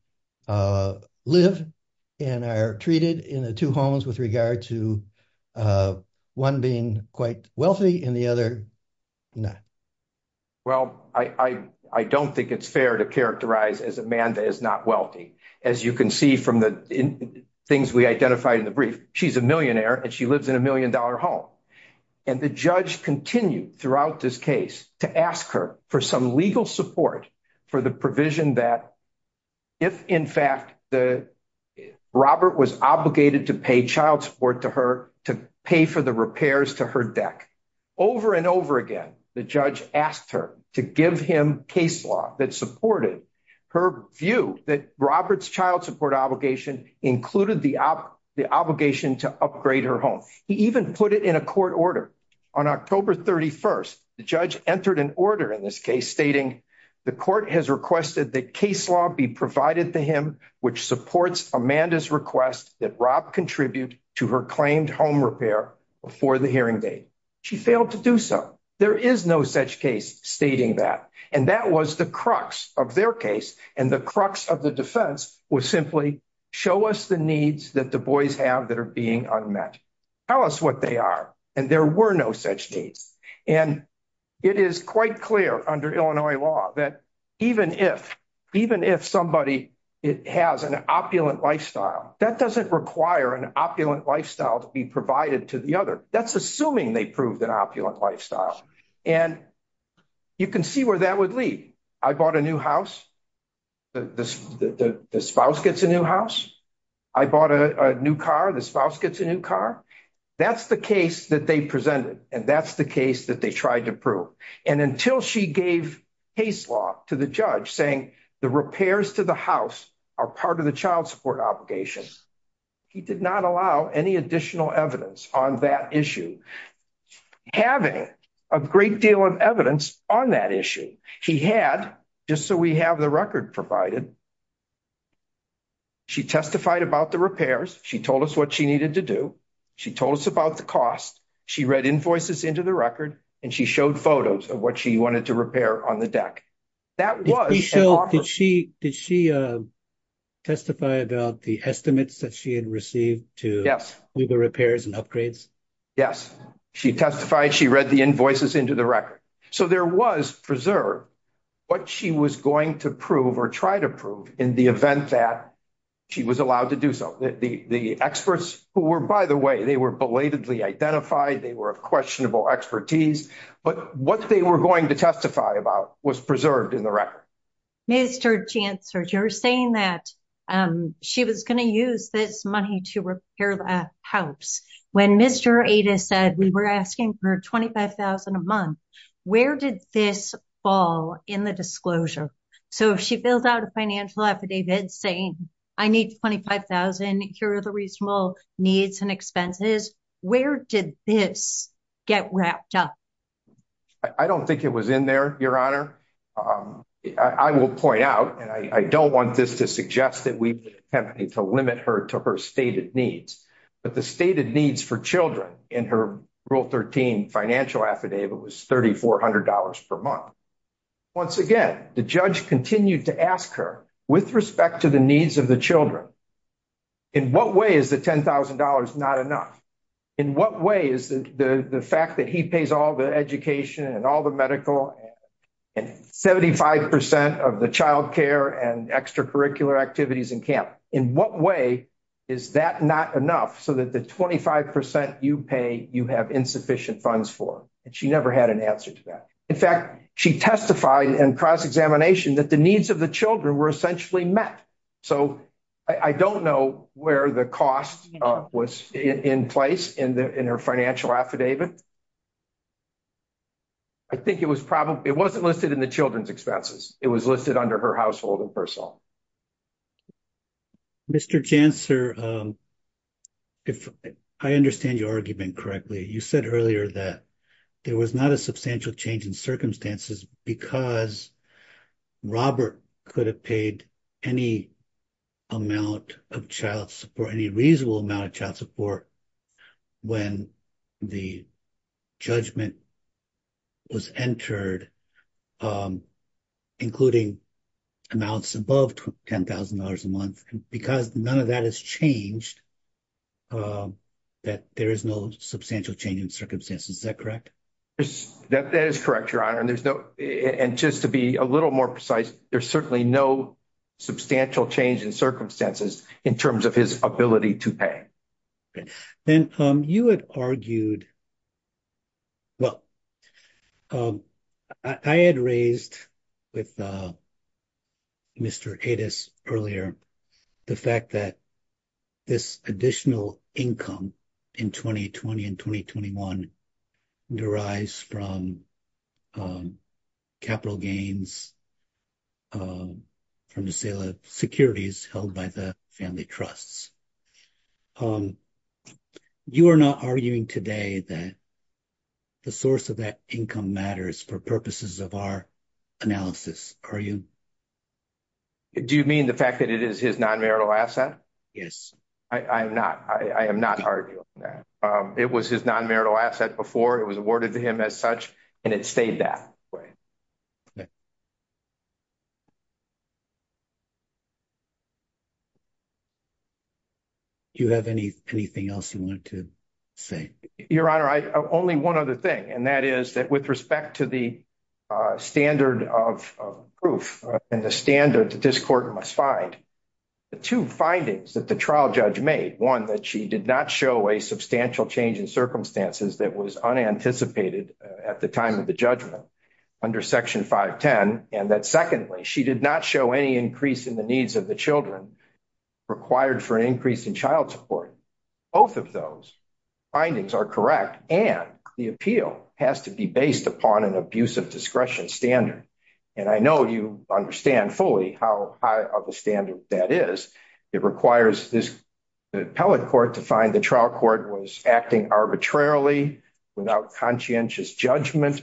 live and are treated in the two homes with regard to one being quite wealthy and the other not? Well, I don't think it's fair to characterize as Amanda is not wealthy. As you can see from the things we identified in the brief, she's a millionaire and she lives in a million-dollar home. And the judge continued throughout this case to ask her for some legal support for the provision that if, in fact, Robert was obligated to pay child support to her, to pay for the repairs to her deck. Over and over again, the judge asked her to give him case law that supported her view that Robert's child support obligation included the obligation to upgrade her home. He even put it in a court order. On October 31st, the judge entered an order in this case stating the court has requested that case law be provided to him, which supports Amanda's request that Rob contribute to her claimed home repair before the hearing date. She failed to do so. There is no such case stating that. And that was the crux of their case. And the crux of the defense was simply show us the needs that the boys have that are being unmet. Tell us what they are. And there were no such needs. And it is quite clear under Illinois law that even if somebody has an opulent lifestyle, that doesn't require an opulent lifestyle to be provided to the other. That's assuming they proved an opulent lifestyle. And you can see where that would lead. I bought a new house. The spouse gets a new house. I bought a new car. The spouse gets a new car. That's the case that they presented. And that's the case that they tried to prove. And until she gave case law to the judge saying the repairs to the house are part of the child support obligation, he did not allow any additional evidence on that issue. Having a great deal of evidence on that issue, he had, just so we have the record provided, she testified about the repairs. She told us what she needed to do. She told us about the cost. She read invoices into the record, and she showed photos of what she wanted to repair on the deck. That was the offer. Did she testify about the estimates that she had received to do the repairs and upgrades? Yes. She testified. She read the invoices into the record. So there was preserved what she was going to prove or try to prove in the event that she was allowed to do so. The experts who were, by the way, they were belatedly identified. They were of questionable expertise. But what they were going to testify about was preserved in the record. Mr. Chancellor, you're saying that she was going to use this money to repair the house. When Mr. Ada said we were asking for $25,000 a month, where did this fall in the disclosure? So if she fills out a financial affidavit saying, I need $25,000, here are the reasonable needs and expenses, where did this get wrapped up? I don't think it was in there, Your Honor. I will point out, and I don't want this to suggest that we have to limit her to her stated needs. But the stated needs for children in her Rule 13 financial affidavit was $3,400 per month. Once again, the judge continued to ask her, with respect to the needs of the children, in what way is the $10,000 not enough? In what way is the fact that he pays all the education and all the medical and 75% of the childcare and extracurricular activities in camp, in what way is that not enough so that the 25% you pay, you have insufficient funds for? And she never had an answer to that. In fact, she testified in cross-examination that the needs of the children were essentially met. So I don't know where the cost was in place in her financial affidavit. I think it was probably, it wasn't listed in the children's expenses. It was listed under her household and personal. Mr. Janser, if I understand your argument correctly, you said earlier that there was not a substantial change in circumstances because Robert could have paid any amount of child support, or any reasonable amount of child support, when the judgment was entered, including amounts above $10,000 a month. Because none of that has changed, that there is no substantial change in circumstances. Is that correct? That is correct, Your Honor. And just to be a little more precise, there's certainly no substantial change in circumstances in terms of his ability to pay. And you had argued, well, I had raised with Mr. Adas earlier the fact that this additional income in 2020 and 2021 derives from capital gains from the sale of securities held by the family trusts. You are not arguing today that the source of that income matters for purposes of our analysis, are you? Do you mean the fact that it is his non-marital asset? Yes. I am not arguing that. It was his non-marital asset before it was awarded to him as such, and it stayed that way. Do you have anything else you want to say? Your Honor, only one other thing, and that is that with respect to the standard of proof and the standard that this court must find, the two findings that the trial judge made, one, that she did not show a substantial change in circumstances that was unanticipated at the time of the judgment under Section 510, and that secondly, she did not show any increase in the needs of the children required for an increase in child support. Both of those findings are correct, and the appeal has to be based upon an abuse of discretion standard. And I know you understand fully how high of a standard that is. It requires the appellate court to find the trial court was acting arbitrarily, without conscientious judgment.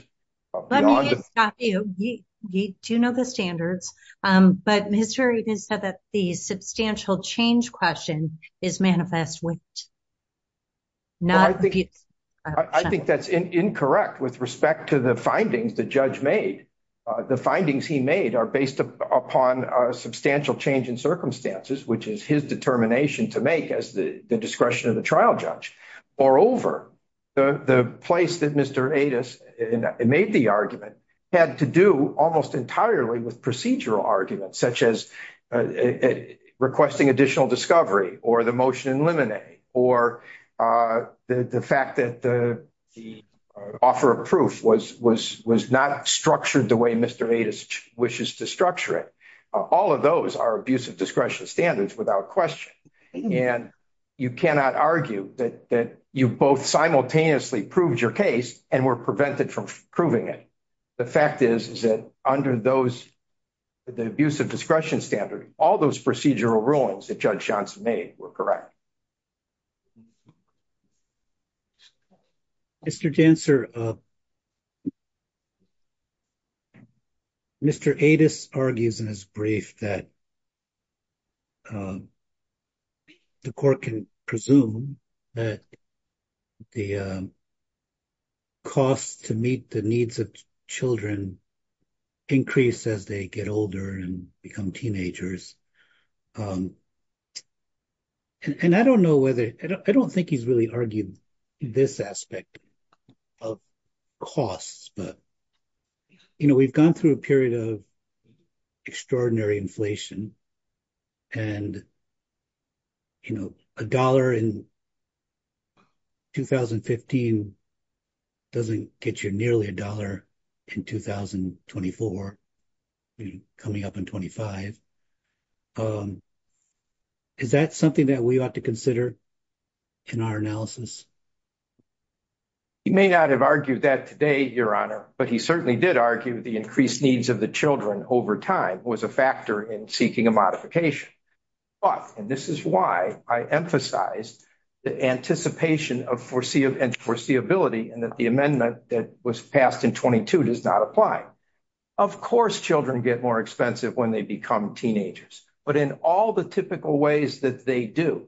Let me ask you, you do know the standards, but in history you didn't say that the substantial change question is manifest when it's not. I think that's incorrect with respect to the findings the judge made. The findings he made are based upon a substantial change in circumstances, which is his determination to make as the discretion of the trial judge. Moreover, the place that Mr. Adas made the argument had to do almost entirely with procedural arguments, such as requesting additional discovery or the motion in limine, or the fact that the offer of proof was not structured the way Mr. Adas wishes to structure it. All of those are abuse of discretion standards without question. And you cannot argue that you both simultaneously proved your case and were prevented from proving it. The fact is that under those, the abuse of discretion standard, all those procedural rulings that Judge Johnson made were correct. Mr. Janser, Mr. Adas argues in his brief that the court can presume that the cost to meet the needs of children increase as they get older and become teenagers. And I don't know whether I don't think he's really argued this aspect of costs, but, you know, we've gone through a period of extraordinary inflation. And, you know, a dollar in 2015 doesn't get you nearly a dollar in 2024, coming up in 25. Is that something that we ought to consider in our analysis? He may not have argued that today, Your Honor, but he certainly did argue the increased needs of the children over time was a factor in seeking a modification. But, and this is why I emphasize the anticipation of foreseeability and that the amendment that was passed in 22 does not apply. Of course, children get more expensive when they become teenagers. But in all the typical ways that they do,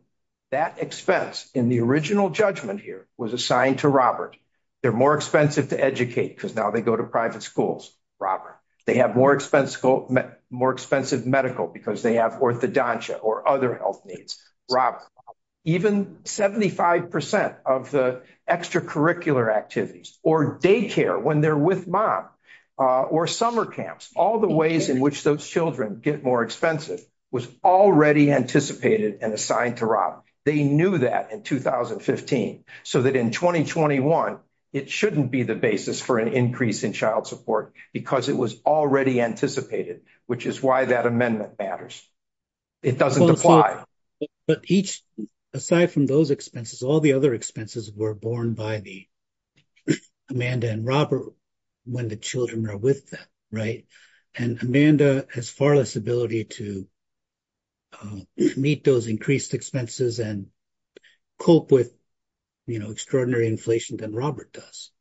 that expense in the original judgment here was assigned to Robert. They're more expensive to educate because now they go to private schools, Robert. They have more expensive medical because they have orthodontia or other health needs, Robert. Even 75% of the extracurricular activities or daycare when they're with mom or summer camps, all the ways in which those children get more expensive was already anticipated and assigned to Rob. They knew that in 2015, so that in 2021, it shouldn't be the basis for an increase in child support because it was already anticipated, which is why that amendment matters. It doesn't apply. But each, aside from those expenses, all the other expenses were borne by the Amanda and Robert when the children are with them, right? And Amanda has far less ability to meet those increased expenses and cope with extraordinary inflation than Robert does.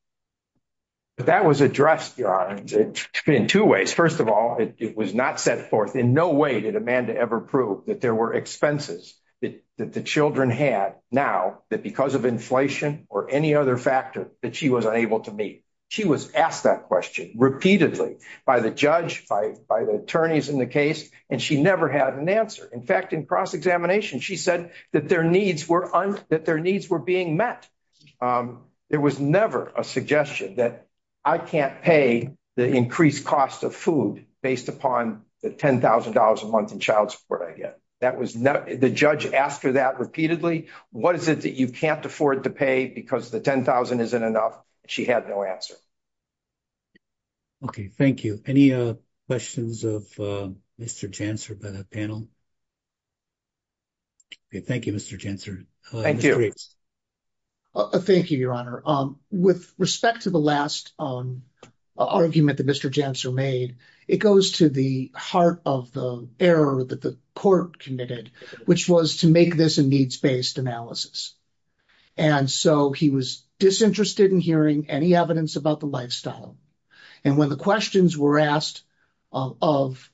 That was addressed in two ways. First of all, it was not set forth in no way that Amanda ever proved that there were expenses that the children had now that because of inflation or any other factor that she was unable to meet. She was asked that question repeatedly by the judge, by the attorneys in the case, and she never had an answer. In fact, in cross-examination, she said that their needs were being met. There was never a suggestion that I can't pay the increased cost of food based upon the $10,000 a month in child support I get. The judge asked her that repeatedly. What is it that you can't afford to pay because the $10,000 isn't enough? She had no answer. Okay. Thank you. Any questions of Mr. Janser for the panel? Thank you, Mr. Janser. Thank you, Your Honor. With respect to the last argument that Mr. Janser made, it goes to the heart of the error that the court committed, which was to make this a needs-based analysis. And so he was disinterested in hearing any evidence about the lifestyle. And when the questions were asked of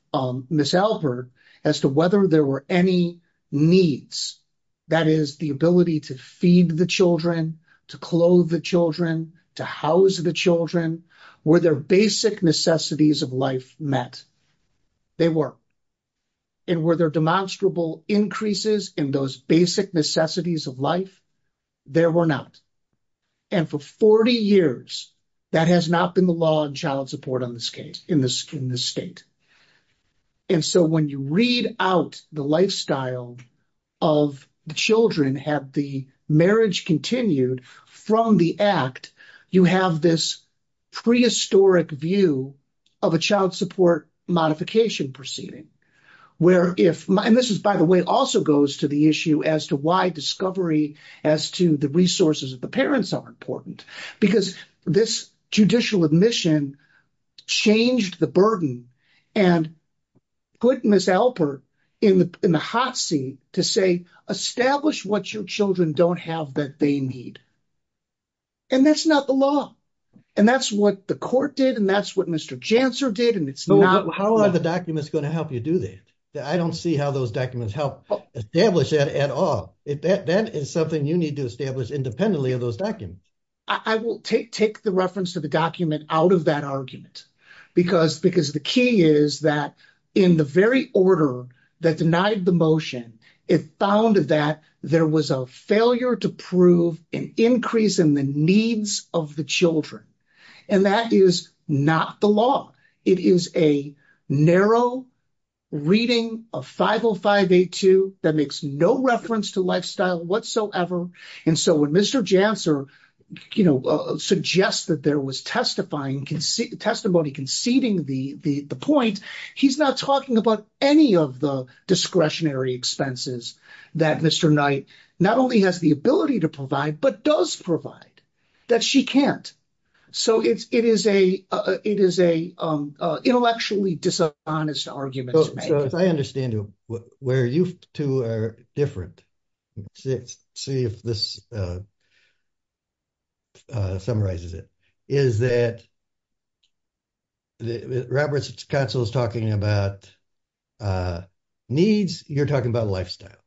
Ms. Albert as to whether there were any needs, that is, the ability to feed the children, to clothe the children, to house the children, were their basic necessities of life met? They were. And were there demonstrable increases in those basic necessities of life? There were not. And for 40 years, that has not been the law in child support in this state. And so when you read out the lifestyle of children, have the marriage continued from the act, you have this prehistoric view of a child support modification proceeding. And this, by the way, also goes to the issue as to why discovery as to the resources of the parents are important. Because this judicial admission changed the burden and put Ms. Albert in the hot seat to say, establish what your children don't have that they need. And that's not the law. And that's what the court did and that's what Mr. Janser did. How are the documents going to help you do that? I don't see how those documents help establish that at all. That is something you need to establish independently of those documents. I will take the reference to the document out of that argument. Because the key is that in the very order that denied the motion, it found that there was a failure to prove an increase in the needs of the children. And that is not the law. It is a narrow reading of 50582 that makes no reference to lifestyle whatsoever. And so when Mr. Janser, you know, suggests that there was testimony conceding the point, he's not talking about any of the discretionary expenses that Mr. Knight not only has the ability to provide, but does provide, that she can't. So it is a intellectually dishonest argument. So if I understand where you two are different, see if this summarizes it, is that Roberts counsel is talking about needs. You're talking about lifestyle.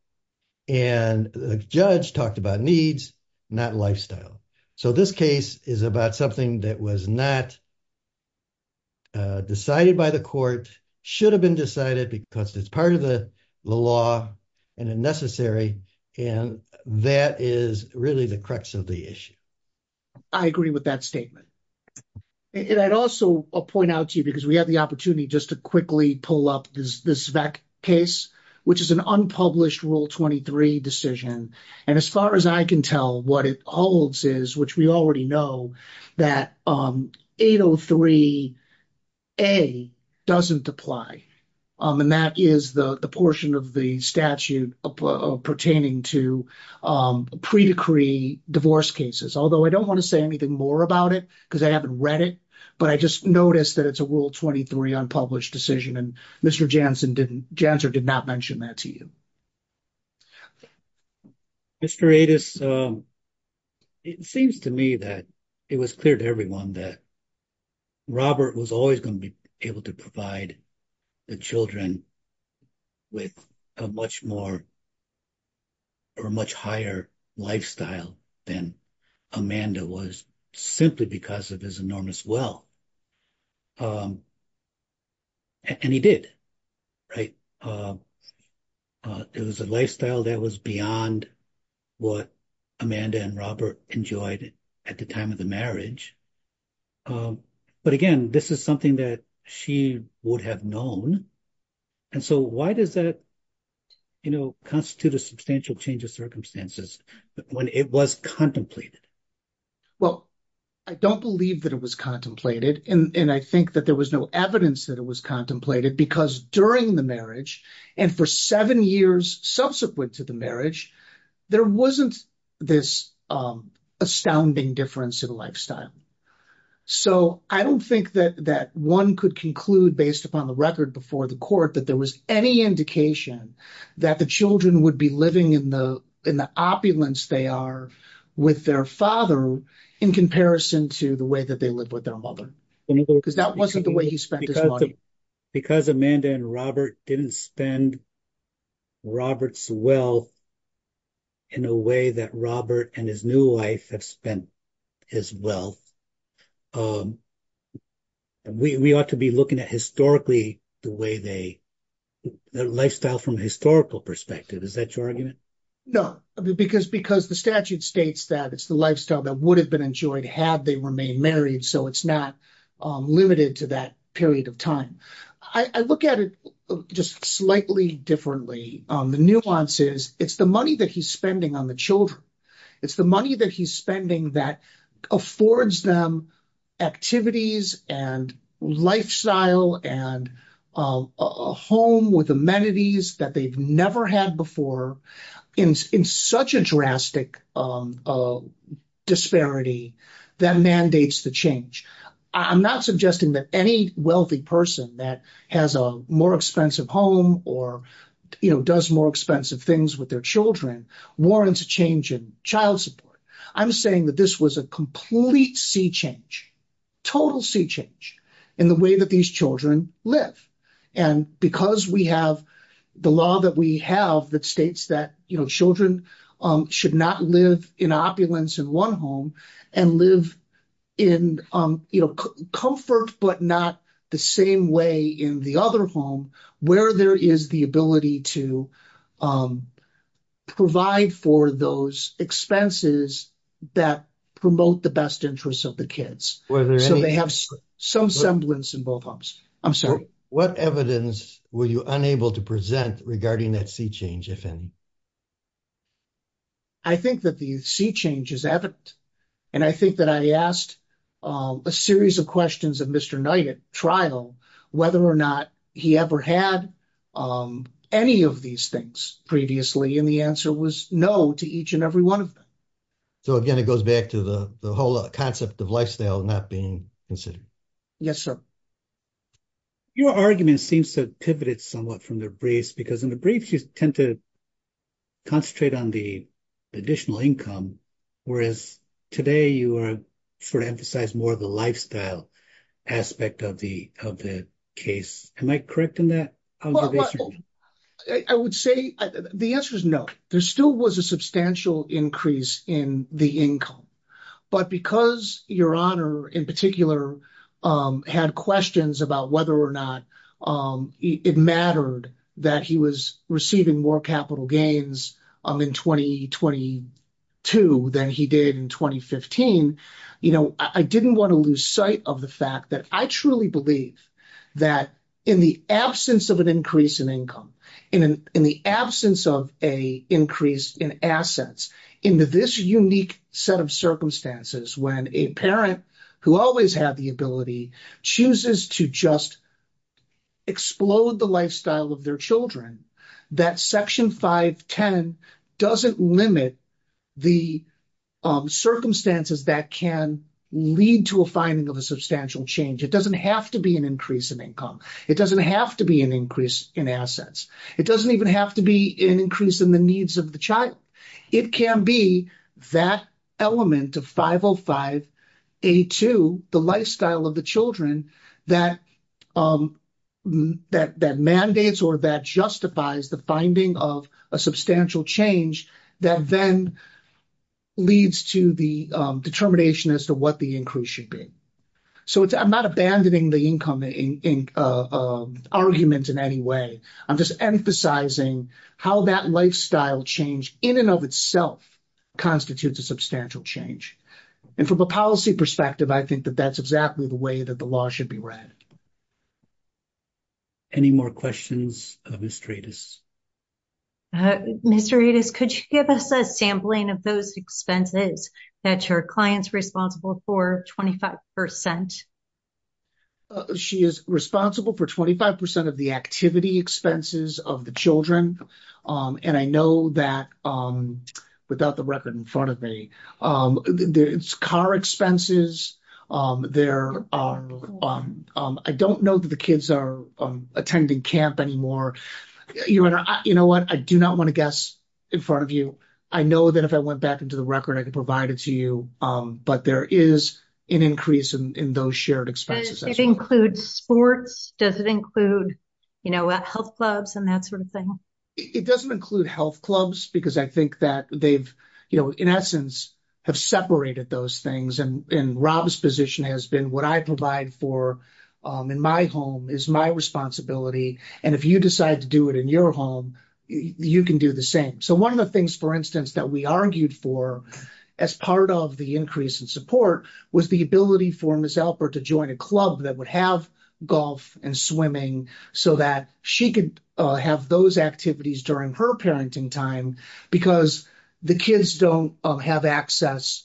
And the judge talked about needs, not lifestyle. So this case is about something that was not decided by the court, should have been decided because it's part of the law and necessary, and that is really the crux of the issue. I agree with that statement. And I'd also point out to you, because we have the opportunity just to quickly pull up this case, which is an unpublished Rule 23 decision. And as far as I can tell, what it holds is, which we already know, that 803A doesn't apply. And that is the portion of the statute pertaining to pre-decree divorce cases. Although I don't want to say anything more about it, because I haven't read it, but I just noticed that it's a Rule 23 unpublished decision, and Mr. Janssen did not mention that to you. Mr. Adis, it seems to me that it was clear to everyone that Robert was always going to be able to provide the children with a much more or a much higher lifestyle than Amanda was, simply because of his enormous will. And he did, right? It was a lifestyle that was beyond what Amanda and Robert enjoyed at the time of the marriage. But again, this is something that she would have known. And so why does that, you know, constitute a substantial change of circumstances when it was contemplated? Well, I don't believe that it was contemplated, and I think that there was no evidence that it was contemplated, because during the marriage, and for seven years subsequent to the marriage, there wasn't this astounding difference in lifestyle. So I don't think that one could conclude, based upon the record before the court, that there was any indication that the children would be living in the opulence they are with their father in comparison to the way that they lived with their mother. Because that wasn't the way he spent his life. Right. Because Amanda and Robert didn't spend Robert's will in a way that Robert and his new wife have spent as well, we ought to be looking at historically the way they, the lifestyle from a historical perspective. Is that your argument? No, because the statute states that it's the lifestyle that would have been enjoyed had they remained married, so it's not limited to that period of time. I look at it just slightly differently. The nuance is, it's the money that he's spending on the children. It's the money that he's spending that affords them activities and lifestyle and a home with amenities that they've never had before in such a drastic disparity that mandates the change. I'm not suggesting that any wealthy person that has a more expensive home or does more expensive things with their children warrants a change in child support. I'm saying that this was a complete sea change, total sea change in the way that these children live. And because we have the law that we have that states that children should not live in opulence in one home and live in comfort but not the same way in the other home where there is the ability to provide for those expenses that promote the best interest of the kids. So they have some semblance in both homes. I'm sorry. What evidence were you unable to present regarding that sea change, if any? I think that the sea change is evident, and I think that I asked a series of questions of Mr. Knight at trial whether or not he ever had any of these things previously, and the answer was no to each and every one of them. So, again, it goes back to the whole concept of lifestyle not being considered. Yes, sir. Your argument seems to have pivoted somewhat from the briefs, because in the briefs you tend to concentrate on the additional income, whereas today you sort of emphasize more of the lifestyle aspect of the case. Am I correct in that observation? I would say the answer is no. There still was a substantial increase in the income. But because Your Honor, in particular, had questions about whether or not it mattered that he was receiving more capital gains in 2022 than he did in 2015, you know, I didn't want to lose sight of the fact that I truly believe that in the absence of an increase in income, in the absence of an increase in assets, in this unique set of circumstances, when a parent who always had the ability chooses to just explode the lifestyle of their children, that Section 510 doesn't limit the circumstances that can lead to a finding of a substantial change. It doesn't have to be an increase in income. It doesn't have to be an increase in assets. It doesn't even have to be an increase in the needs of the child. It can be that element of 505A2, the lifestyle of the children, that mandates or that justifies the finding of a substantial change that then leads to the determination as to what the increase should be. So I'm not abandoning the income argument in any way. I'm just emphasizing how that lifestyle change, in and of itself, constitutes a substantial change. And from a policy perspective, I think that that's exactly the way that the law should be read. Any more questions of Ms. Dredis? Ms. Dredis, could you give us a sampling of those expenses that your client's responsible for 25%? She is responsible for 25% of the activity expenses of the children. And I know that without the record in front of me, it's car expenses. I don't know that the kids are attending camp anymore. You know what? I do not want to guess in front of you. I know that if I went back into the record, I could provide it to you. But there is an increase in those shared expenses. Does it include sports? Does it include health clubs and that sort of thing? It doesn't include health clubs because I think that they've, in essence, have separated those things. And Rob's position has been what I provide for in my home is my responsibility. And if you decide to do it in your home, you can do the same. So one of the things, for instance, that we argued for as part of the increase in support was the ability for Ms. Alper to join a club that would have golf and swimming so that she could have those activities during her parenting time because the kids don't have access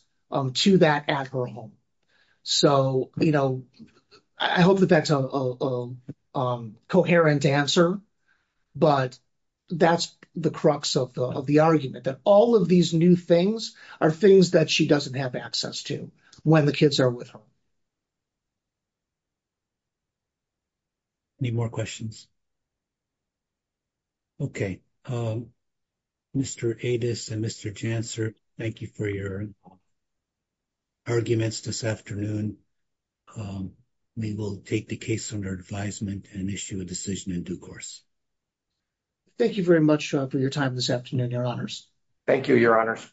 to that at her home. So, you know, I hope that that's a coherent answer. But that's the crux of the argument, that all of these new things are things that she doesn't have access to when the kids are with her. Any more questions? Okay. Mr. Adas and Mr. Janser, thank you for your arguments this afternoon. We will take the case under advisement and issue a decision in due course. Thank you very much for your time this afternoon, Your Honors. Thank you, Your Honors.